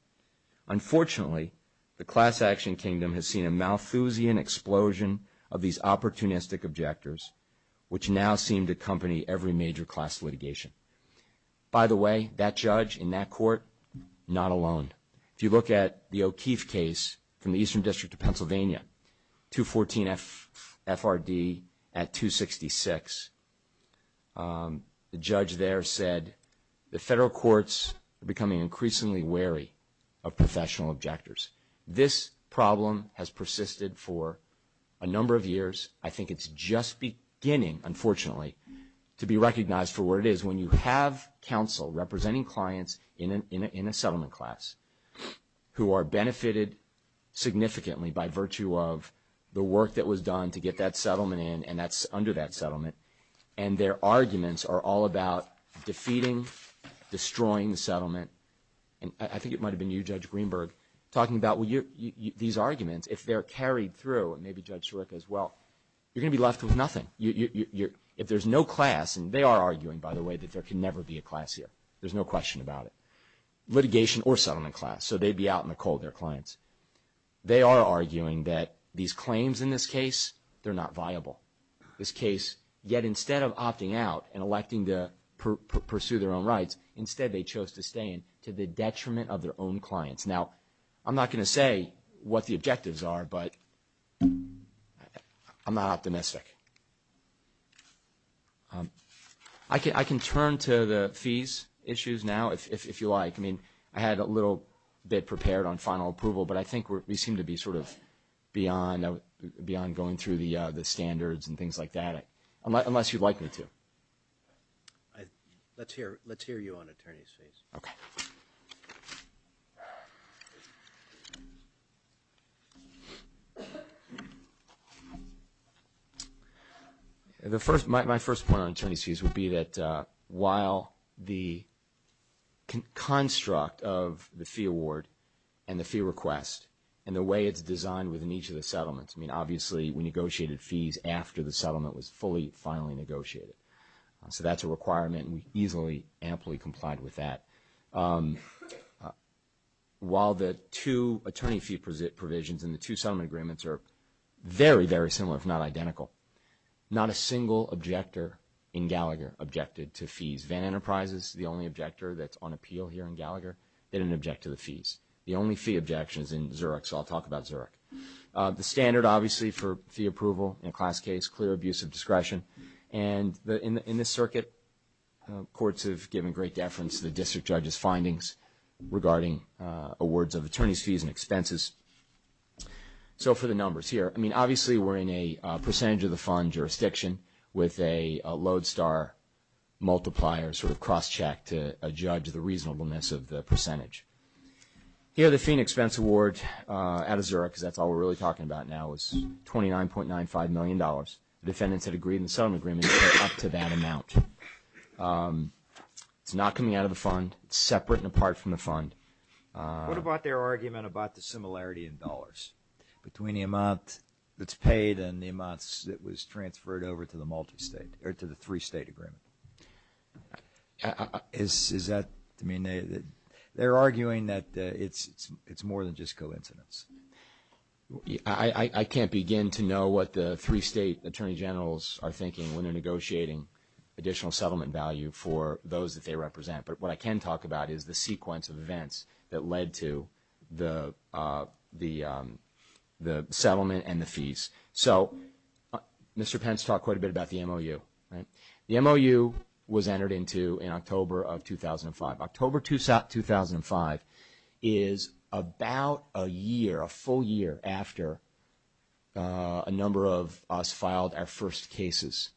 Unfortunately, the class action kingdom has seen a Malthusian explosion of these opportunistic objectors, which now seem to accompany every major class litigation. By the way, that judge in that court, not alone. If you look at the O'Keefe case from the Eastern District of Pennsylvania, 214 FRD at 266, the judge there said the federal courts are becoming increasingly wary of professional objectors. This problem has persisted for a number of years. I think it's just beginning, unfortunately, to be recognized for what it is. When you have counsel representing clients in a settlement class who are benefited significantly by virtue of the work that was done to get that settlement in, and that's under that settlement, and their arguments are all about defeating, destroying the settlement. I think it might have been you, Judge Greenberg, talking about these arguments, if they're carried through, and maybe Judge Shorrock as well, you're going to be left with nothing. If there's no class, and they are arguing, by the way, that there can never be a class here. There's no question about it. Litigation or settlement class, so they'd be out in the cold, their clients. They are arguing that these claims in this case, they're not viable. This case, yet instead of opting out and electing to pursue their own rights, instead they chose to stay in to the detriment of their own clients. Now, I'm not going to say what the objectives are, but I'm not optimistic. I can turn to the fees issues now, if you like. I mean, I had a little bit prepared on final approval, but I think we seem to be sort of beyond going through the standards and things like that, unless you'd like me to. Let's hear you on attorney's fees. Okay. My first point on attorney's fees would be that while the construct of the fee award and the fee request and the way it's designed within each of the settlements, I mean, obviously, we negotiated fees after the settlement was fully, finally negotiated. So that's a requirement. We easily, amply complied with that. While the two attorney fee provisions in the two settlement agreements are very, very similar, if not identical, not a single objector in Gallagher objected to fees. Van Enterprises is the only objector that's on appeal here in Gallagher that didn't object to the fees. The only fee objection is in Zurich, so I'll talk about Zurich. The standard, obviously, for fee approval in a class case, clear abuse of discretion. And in this circuit, courts have given great deference to the district judge's findings regarding awards of attorney's fees and expenses. So for the numbers here, I mean, obviously, we're in a percentage-of-the-fund jurisdiction with a lodestar multiplier sort of cross-checked to judge the reasonableness of the percentage. Here, the fee and expense award out of Zurich, that's all we're really talking about now, is $29.95 million. The defendant had agreed in some agreement to pay up to that amount. It's not coming out of the fund. It's separate and apart from the fund. What about their argument about the similarity in dollars between the amount that's paid and the amounts that was transferred over to the multistate or to the three-state agreement? They're arguing that it's more than just coincidence. I can't begin to know what the three-state attorney generals are thinking when they're negotiating additional settlement value for those that they represent. But what I can talk about is the sequence of events that led to the settlement and the fees. So Mr. Pence talked quite a bit about the MOU. The MOU was entered into in October of 2005. October 2005 is about a year, a full year, after a number of us filed our first cases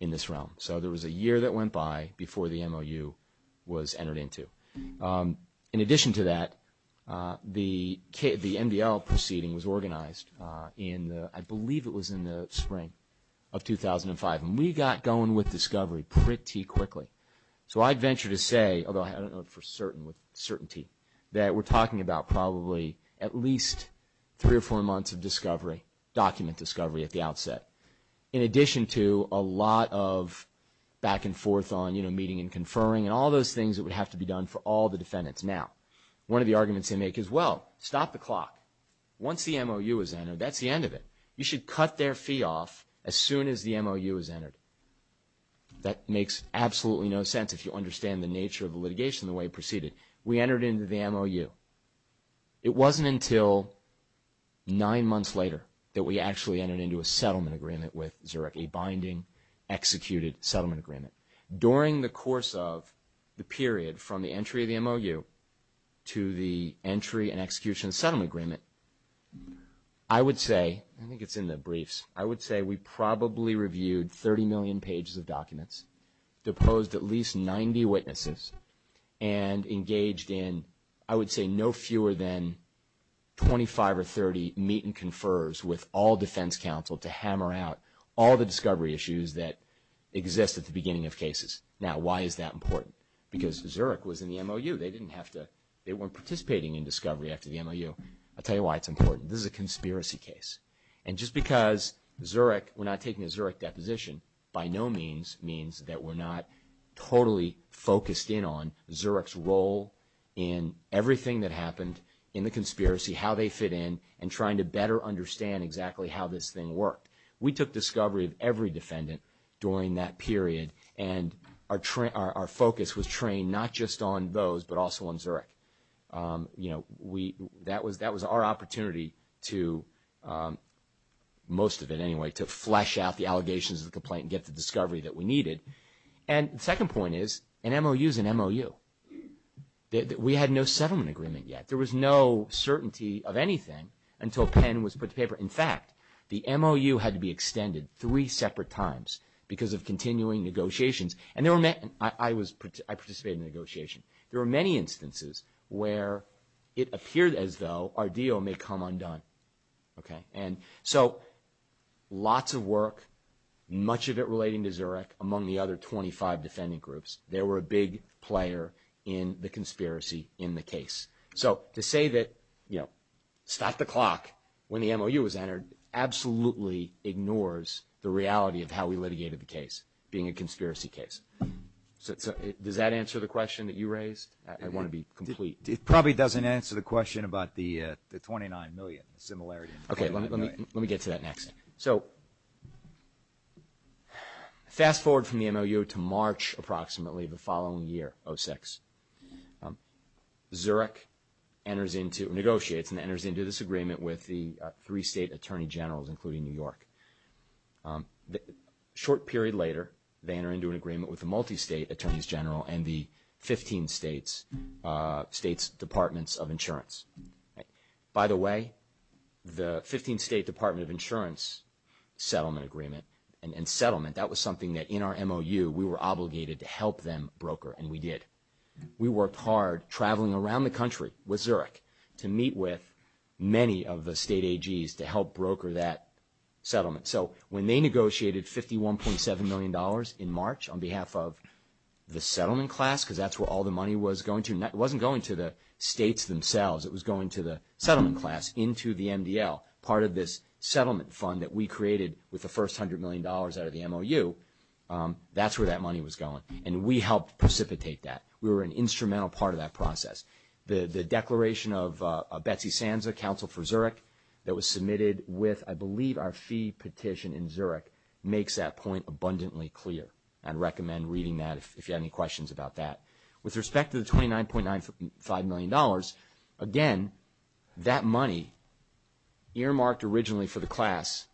in this realm. So there was a year that went by before the MOU was entered into. In addition to that, the NBRL proceeding was organized in, I believe it was in the spring of 2005. And we got going with discovery pretty quickly. So I'd venture to say, although I don't know for certainty, that we're talking about probably at least three or four months of discovery, document discovery at the outset. In addition to a lot of back and forth on meeting and conferring and all those things that would have to be done for all the defendants. Now, one of the arguments they make is, well, stop the clock. Once the MOU is entered, that's the end of it. You should cut their fee off as soon as the MOU is entered. That makes absolutely no sense if you understand the nature of the litigation the way it proceeded. We entered into the MOU. It wasn't until nine months later that we actually entered into a settlement agreement with Zurich, a binding, executed settlement agreement. During the course of the period from the entry of the MOU to the entry and execution of the settlement agreement, I would say, I think it's in the briefs, I would say we probably reviewed 30 million pages of documents, deposed at least 90 witnesses, and engaged in, I would say, no fewer than 25 or 30 meet and confers with all defense counsel to hammer out all the discovery issues that exist at the beginning of cases. Now, why is that important? Because Zurich was in the MOU. They didn't have to, they weren't participating in discovery after the MOU. I'll tell you why it's important. This is a conspiracy case. And just because Zurich, we're not taking a Zurich deposition, by no means means that we're not totally focused in on Zurich's role in everything that happened in the conspiracy, how they fit in, and trying to better understand exactly how this thing worked. We took discovery of every defendant during that period, and our focus was trained not just on those but also on Zurich. You know, that was our opportunity to, most of it anyway, to flesh out the allegations of the complaint and get the discovery that we needed. And the second point is, an MOU is an MOU. We had no settlement agreement yet. In fact, the MOU had to be extended three separate times because of continuing negotiations. And I participated in negotiations. There were many instances where it appeared as though our deal may come undone. And so lots of work, much of it relating to Zurich, among the other 25 defendant groups. They were a big player in the conspiracy in the case. So to say that, you know, stop the clock when the MOU was entered absolutely ignores the reality of how we litigated the case, being a conspiracy case. So does that answer the question that you raised? I want to be complete. It probably doesn't answer the question about the 29 million similarity. Okay, let me get to that next. So fast forward from the MOU to March approximately the following year, 06. Zurich negotiates and enters into this agreement with the three state attorney generals, including New York. A short period later, they enter into an agreement with the multi-state attorneys general and the 15 states' departments of insurance. By the way, the 15 state department of insurance settlement agreement and settlement, that was something that in our MOU we were obligated to help them broker, and we did. We worked hard traveling around the country with Zurich to meet with many of the state AGs to help broker that settlement. So when they negotiated $51.7 million in March on behalf of the settlement class, because that's where all the money was going to, and that wasn't going to the states themselves, it was going to the settlement class, into the MDL, part of this settlement fund that we created with the first $100 million out of the MOU, that's where that money was going. And we helped precipitate that. We were an instrumental part of that process. The declaration of Betsy Sanza, counsel for Zurich, that was submitted with, I believe, our fee petition in Zurich, makes that point abundantly clear. I'd recommend reading that if you have any questions about that. With respect to the $29.95 million, again, that money earmarked originally for the class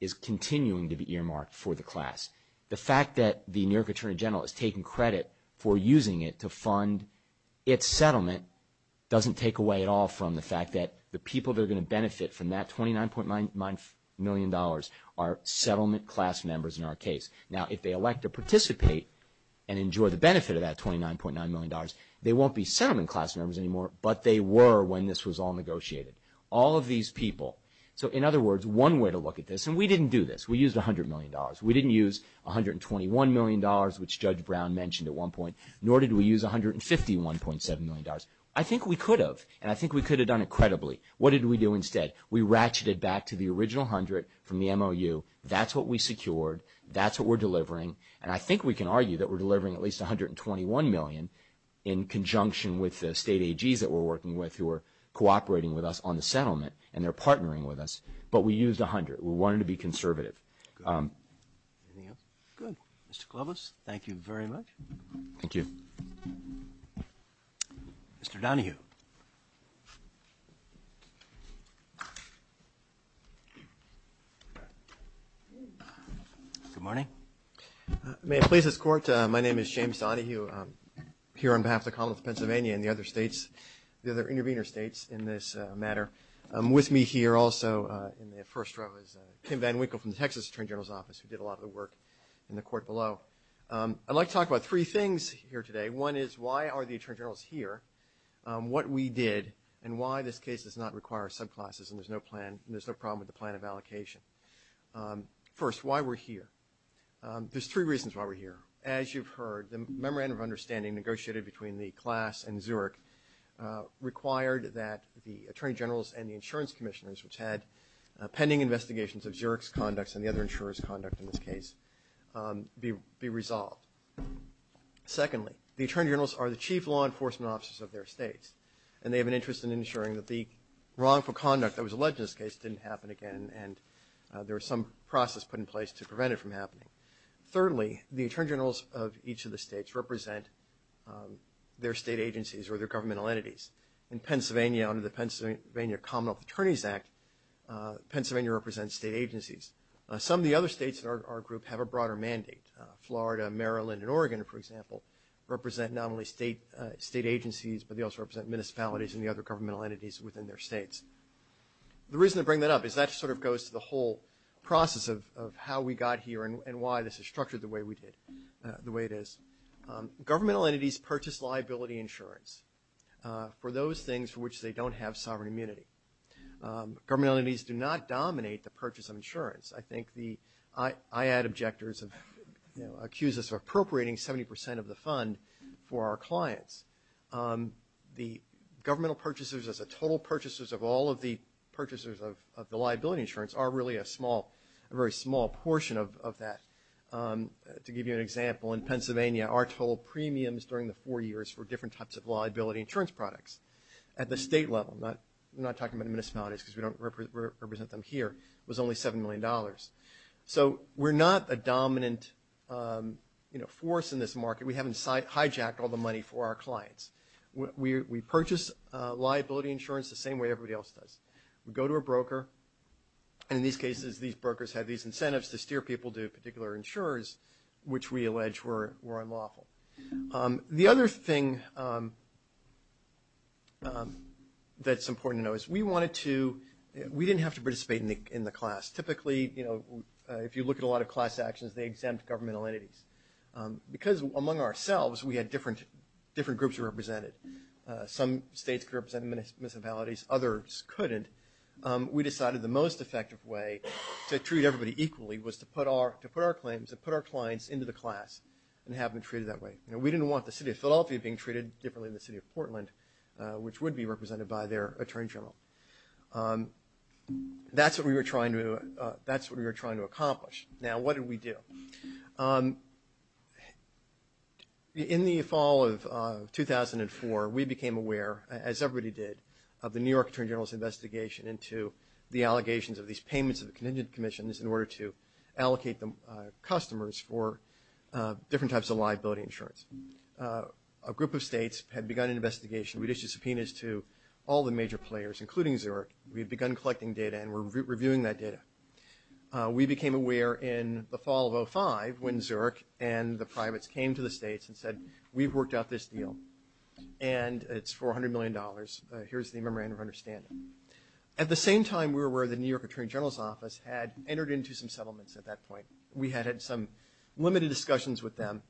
is continuing to be earmarked for the class. The fact that the New York Attorney General is taking credit for using it to fund its settlement doesn't take away at all from the fact that the people that are going to benefit from that $29.95 million are settlement class members in our case. Now, if they elect to participate and enjoy the benefit of that $29.95 million, they won't be settlement class members anymore, but they were when this was all negotiated. All of these people, so in other words, one way to look at this, and we didn't do this. We used $100 million. We didn't use $121 million, which Judge Brown mentioned at one point, nor did we use $151.7 million. I think we could have, and I think we could have done it credibly. What did we do instead? We ratcheted back to the original $100 from the MOU. That's what we secured. That's what we're delivering. And I think we can argue that we're delivering at least $121 million in conjunction with the state AGs that we're working with who are cooperating with us on the settlement, and they're partnering with us. But we used $100. We wanted to be conservative. Mr. Klobuchar, thank you very much. Thank you. Mr. Donohue. Good morning. May I please escort? My name is James Donohue. I'm here on behalf of the College of Pennsylvania and the other states, the other intervener states in this matter. I'm with me here also in the first row is Tim VanWinkle from the Texas Attorney General's Office, who did a lot of the work in the court below. I'd like to talk about three things here today. One is why are the attorney generals here, what we did, and why this case does not require subclasses and there's no problem with the plan of allocation. First, why we're here. There's three reasons why we're here. As you've heard, the memorandum of understanding negotiated between the class and Zurich required that the attorney generals and the insurance commissioners which had pending investigations of Zurich's conduct and the other insurers' conduct in this case be resolved. Secondly, the attorney generals are the chief law enforcement officers of their states, and they have an interest in ensuring that the wrongful conduct that was alleged in this case didn't happen again and there was some process put in place to prevent it from happening. Thirdly, the attorney generals of each of the states represent their state agencies or their governmental entities. In Pennsylvania, under the Pennsylvania Commonwealth Attorneys Act, Pennsylvania represents state agencies. Some of the other states in our group have a broader mandate. Florida, Maryland, and Oregon, for example, represent not only state agencies, but they also represent municipalities and the other governmental entities within their states. The reason I bring that up is that sort of goes to the whole process of how we got here and why this is structured the way it is. Governmental entities purchase liability insurance for those things for which they don't have sovereign immunity. Governmental entities do not dominate the purchase of insurance. I think the IAD objectors have accused us of appropriating 70 percent of the fund for our clients. The governmental purchasers as a total purchasers of all of the purchasers of the liability insurance are really a small, a very small portion of that. To give you an example, in Pennsylvania, our total premiums during the four years were different types of liability insurance products. At the state level, I'm not talking about municipalities because we don't represent them here, was only $7 million. So we're not a dominant force in this market. We haven't hijacked all the money for our clients. We purchase liability insurance the same way everybody else does. We go to a broker, and in these cases, these brokers have these incentives to steer people to particular insurers, which we allege were unlawful. The other thing that's important to know is we wanted to – we didn't have to participate in the class. Typically, you know, if you look at a lot of class actions, they exempt governmental entities. Because among ourselves, we had different groups represented. Some states represented municipalities, others couldn't. We decided the most effective way to treat everybody equally was to put our claims, to put our clients into the class and have them treated that way. You know, we didn't want the city of Philadelphia being treated differently than the city of Portland, which would be represented by their attorney general. That's what we were trying to accomplish. Now, what did we do? In the fall of 2004, we became aware, as everybody did, of the New York Attorney General's investigation into the allegations of these payments of contingent commissions in order to allocate customers for different types of liability insurance. A group of states had begun an investigation. We issued subpoenas to all the major players, including Xerox. We had begun collecting data, and we're reviewing that data. We became aware in the fall of 2005 when Xerox and the privates came to the states and said, we've worked out this deal, and it's $400 million. Here's the memorandum of understanding. At the same time, we were aware the New York Attorney General's office had entered into some settlements at that point. We had had some limited discussions with them,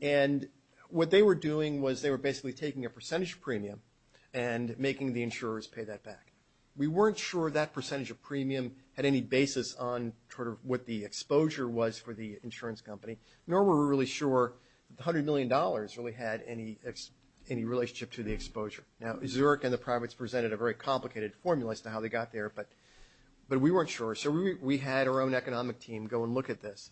and what they were doing was they were basically taking a percentage premium and making the insurers pay that back. We weren't sure that percentage of premium had any basis on sort of what the exposure was for the insurance company, nor were we really sure $100 million really had any relationship to the exposure. Now, Xerox and the privates presented a very complicated formula as to how they got there, but we weren't sure. So we had our own economic team go and look at this.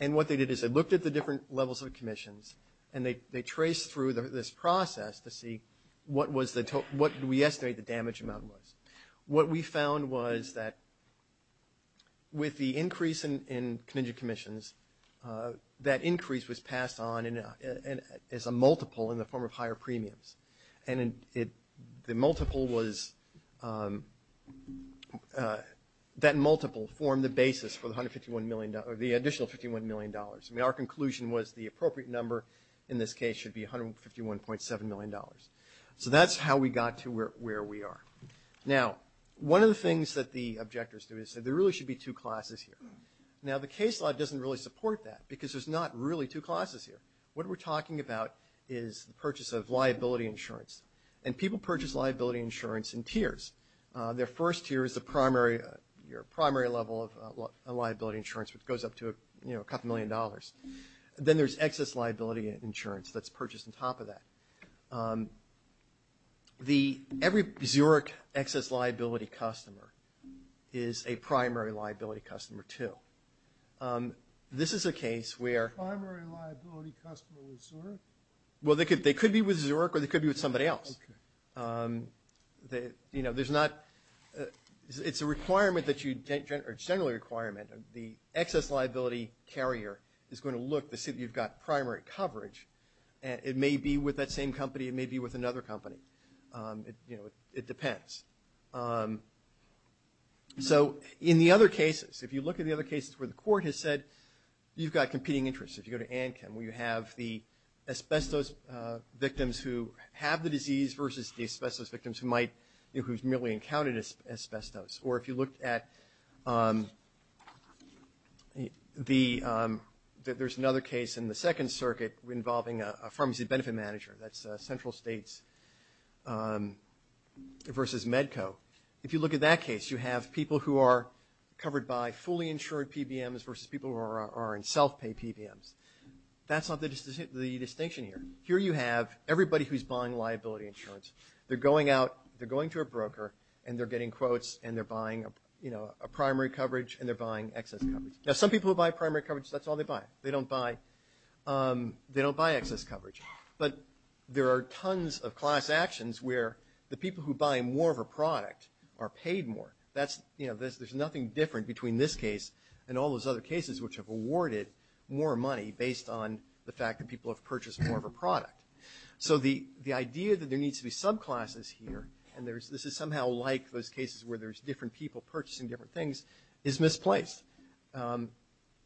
And what they did is they looked at the different levels of commissions, and they traced through this process to see what we estimate the damage amount was. What we found was that with the increase in commission commissions, that increase was passed on as a multiple in the form of higher premiums. And the multiple was – that multiple formed the basis for the additional $51 million. Our conclusion was the appropriate number in this case should be $151.7 million. So that's how we got to where we are. Now, one of the things that the objectors do is say there really should be two classes here. Now, the case law doesn't really support that because there's not really two classes here. What we're talking about is the purchase of liability insurance. And people purchase liability insurance in tiers. Their first tier is the primary level of liability insurance, which goes up to a couple million dollars. Then there's excess liability insurance that's purchased on top of that. Every Zurich excess liability customer is a primary liability customer too. This is a case where – Primary liability customer with Zurich? Well, they could be with Zurich or they could be with somebody else. You know, there's not – it's a requirement that you – or it's generally a requirement. The excess liability carrier is going to look as if you've got primary coverage. It may be with that same company. It may be with another company. You know, it depends. So in the other cases, if you look at the other cases where the court has said you've got competing interests, if you go to Anchem where you have the asbestos victims who have the disease versus the asbestos victims who might – who've merely encountered asbestos. Or if you look at the – there's another case in the Second Circuit involving a pharmacy benefit manager. That's Central States versus Medco. If you look at that case, you have people who are covered by fully insured PBMs versus people who are in self-paid PBMs. That's not the distinction here. Here you have everybody who's buying liability insurance. They're going out – they're going to a broker and they're bidding quotes and they're buying, you know, a primary coverage and they're buying excess coverage. Now, some people who buy primary coverage, that's all they buy. They don't buy excess coverage. But there are tons of class actions where the people who buy more of a product are paid more. That's – you know, there's nothing different between this case and all those other cases which have awarded more money based on the fact that people have purchased more of a product. So the idea that there needs to be subclasses here, and this is somehow like those cases where there's different people purchasing different things, is misplaced.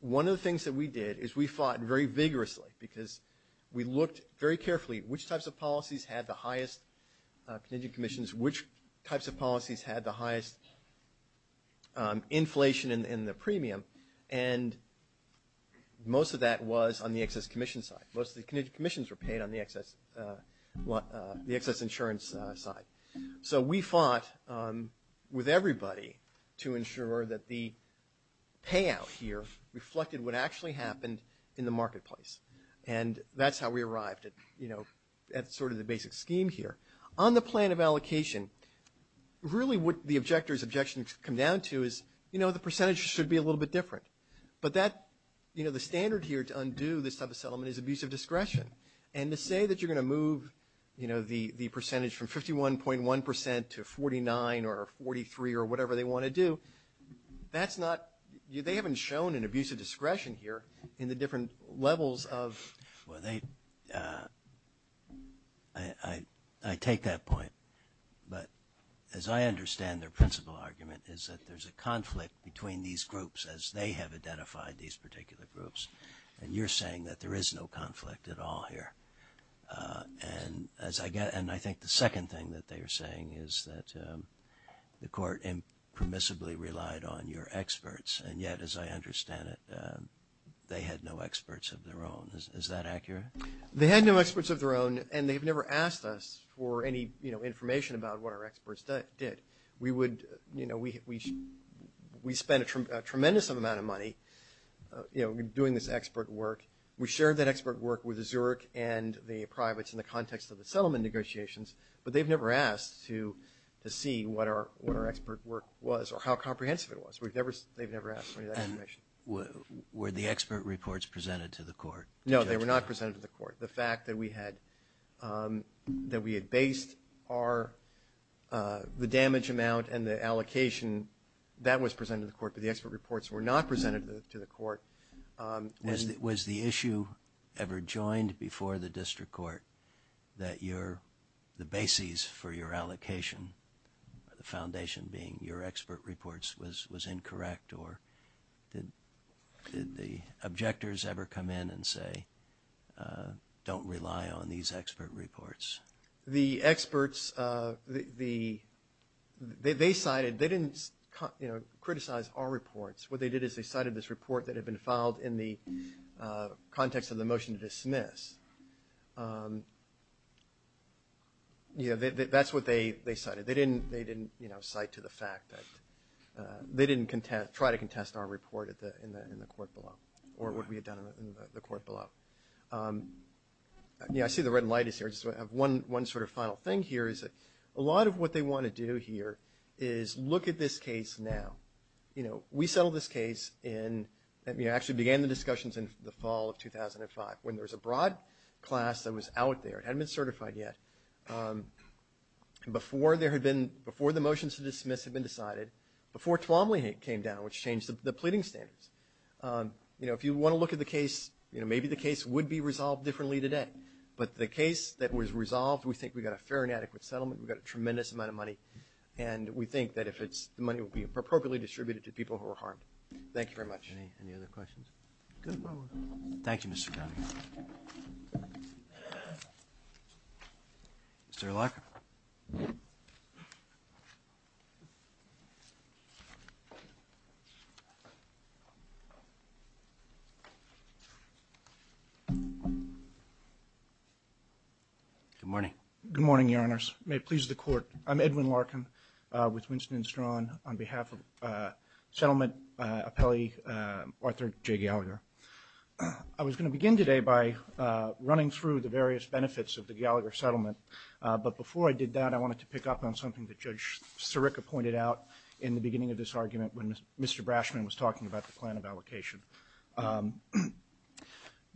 One of the things that we did is we fought very vigorously because we looked very carefully which types of policies had the highest contingent commissions, which types of policies had the highest inflation in the premium, and most of that was on the excess commission side. Most of the contingent commissions were paid on the excess insurance side. So we fought with everybody to ensure that the payout here reflected what actually happened in the marketplace. And that's how we arrived at, you know, at sort of the basic scheme here. On the plan of allocation, really what the objectors' objections come down to is, you know, the percentage should be a little bit different. But that – you know, the standard here to undo this type of settlement is abuse of discretion. And to say that you're going to move, you know, the percentage from 51.1 percent to 49 or 43 or whatever they want to do, that's not – they haven't shown an abuse of discretion here in the different levels of – Well, they – I take that point. But as I understand their principal argument is that there's a conflict between these groups as they have identified these particular groups. And you're saying that there is no conflict at all here. And as I get – and I think the second thing that they're saying is that the court impermissibly relied on your experts. And yet, as I understand it, they had no experts of their own. Is that accurate? They had no experts of their own, and they've never asked us for any, you know, information about what our experts did. We would – you know, we spent a tremendous amount of money, you know, doing this expert work. We shared that expert work with the Zurich and the privates in the context of the settlement negotiations. But they've never asked to see what our expert work was or how comprehensive it was. They've never asked for that information. And were the expert reports presented to the court? No, they were not presented to the court. The fact that we had – that we had based our – the damage amount and the allocation, that was presented to the court. But the expert reports were not presented to the court. Was the issue ever joined before the district court that your – the basis for your allocation, the foundation being your expert reports, was incorrect? Or did the objectors ever come in and say, don't rely on these expert reports? The experts – they cited – they didn't, you know, criticize our reports. What they did is they cited this report that had been filed in the context of the motion to dismiss. You know, that's what they cited. They didn't, you know, cite to the fact that – they didn't try to contest our report in the court below or what we had done in the court below. Yeah, I see the red light is here. Just one sort of final thing here is that a lot of what they want to do here is look at this case now. You know, we settled this case in – we actually began the discussions in the fall of 2005 when there was a broad class that was out there. It hadn't been certified yet. Before there had been – before the motions to dismiss had been decided, before Tuomaly came down, which changed the pleading standards, you know, if you want to look at the case, you know, maybe the case would be resolved differently today. But the case that was resolved, we think we got a fair and adequate settlement. We got a tremendous amount of money. And we think that if it's – the money would be appropriately distributed to people who were harmed. Thank you very much. Any other questions? Thank you, Mr. Dunn. Mr. Larkin. Good morning. Good morning, Your Honors. May it please the Court, I'm Edwin Larkin with Winston & Strachan. On behalf of settlement appellee Arthur J. Gallagher, I was going to begin today by running through the various benefits of the Gallagher settlement. But before I did that, I wanted to pick up on something that Judge Sirica pointed out in the beginning of this argument when Mr. Brashman was talking about the plan of allocation.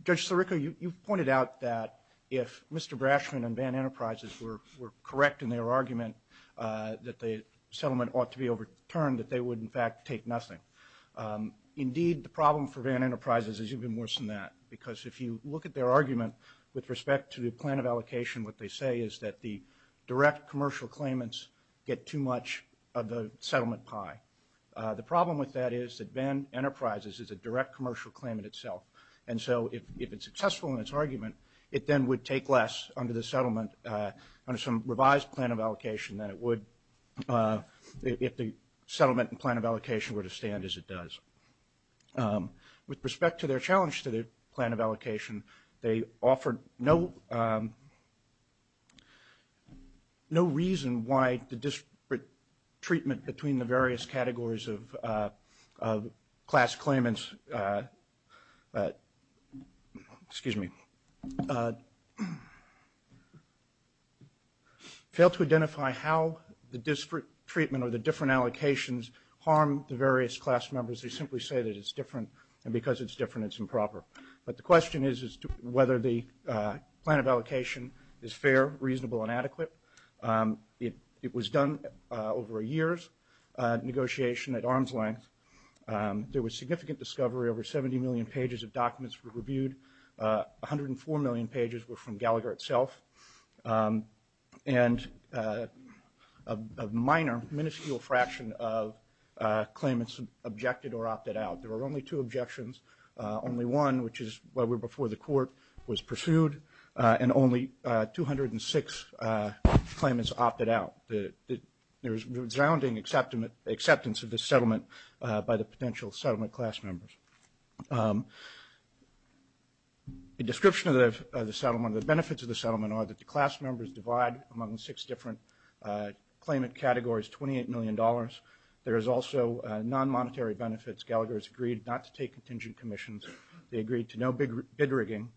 Judge Sirica, you pointed out that if Mr. Brashman and Van Enterprises were correct in their argument that the settlement ought to be overturned, that they would, in fact, take nothing. Indeed, the problem for Van Enterprises is even worse than that, because if you look at their argument with respect to the plan of allocation, what they say is that the direct commercial claimants get too much of the settlement pie. The problem with that is that Van Enterprises is a direct commercial claimant itself. And so if it's successful in its argument, it then would take less under the settlement, under some revised plan of allocation than it would if the settlement and plan of allocation were to stand as it does. With respect to their challenge to the plan of allocation, they offered no reason why the disparate treatment between the various categories of class claimants failed to identify how the disparate treatment or the different allocations harmed the various class members. They simply say that it's different, and because it's different, it's improper. But the question is whether the plan of allocation is fair, reasonable, and adequate. It was done over a year's negotiation at arm's length. There was significant discovery. Over 70 million pages of documents were reviewed. 104 million pages were from Gallagher itself, and a minor, minuscule fraction of claimants objected or opted out. There were only two objections. Only one, which is where we're before the court, was pursued, and only 206 claimants opted out. There's resounding acceptance of this settlement by the potential settlement class members. The description of the settlement, the benefits of the settlement, are that the class members divide among six different claimant categories, $28 million. There is also non-monetary benefits. Gallagher has agreed not to take contingent commissions. They agreed to no bid rigging.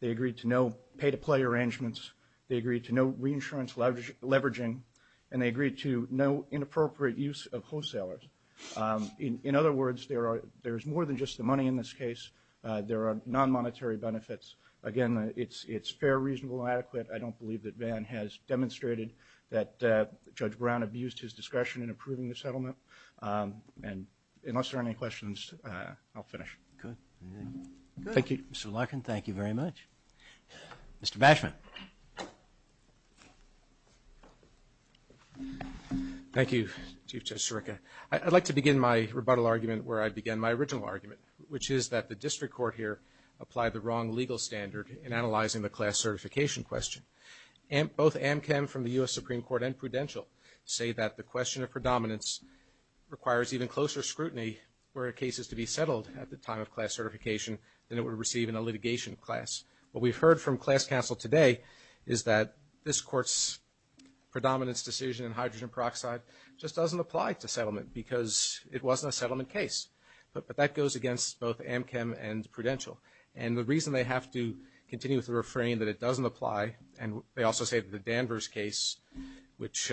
They agreed to no pay-to-play arrangements. They agreed to no reinsurance leveraging, and they agreed to no inappropriate use of wholesalers. In other words, there's more than just the money in this case. There are non-monetary benefits. Again, it's fair, reasonable, and adequate. I don't believe that Van has demonstrated that Judge Brown abused his discretion in approving the settlement. Unless there are any questions, I'll finish. Good. Thank you, Mr. Larkin. Thank you very much. Mr. Bashman. Thank you, Chief Judge Chiricka. I'd like to begin my rebuttal argument where I began my original argument, which is that the district court here applied the wrong legal standard in analyzing the class certification question. Both Amkin from the U.S. Supreme Court and Prudential say that the question of predominance requires even closer scrutiny for cases to be settled at the time of class certification than it would receive in a litigation class. What we've heard from class counsel today is that this court's predominance decision in hydrogen peroxide just doesn't apply to settlement because it wasn't a settlement case. But that goes against both Amkin and Prudential. And the reason they have to continue to refrain that it doesn't apply, and they also say that the Danvers case, which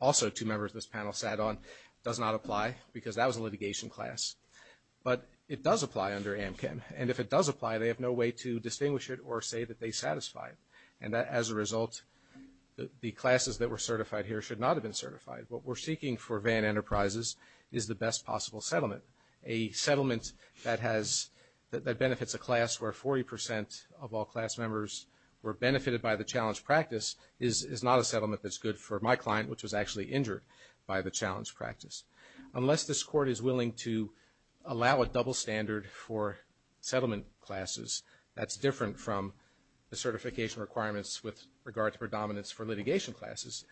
also two members of this panel sat on, does not apply because that was a litigation class. But it does apply under Amkin. And if it does apply, they have no way to distinguish it or say that they satisfy it. And as a result, the classes that were certified here should not have been certified. What we're seeking for Van Enterprises is the best possible settlement, a settlement that benefits a class where 40 percent of all class members were benefited by the challenge practice is not a settlement that's good for my client, which was actually injured by the challenge practice. Unless this court is willing to allow a double standard for settlement classes, that's different from the certification requirements with regard to predominance for litigation classes,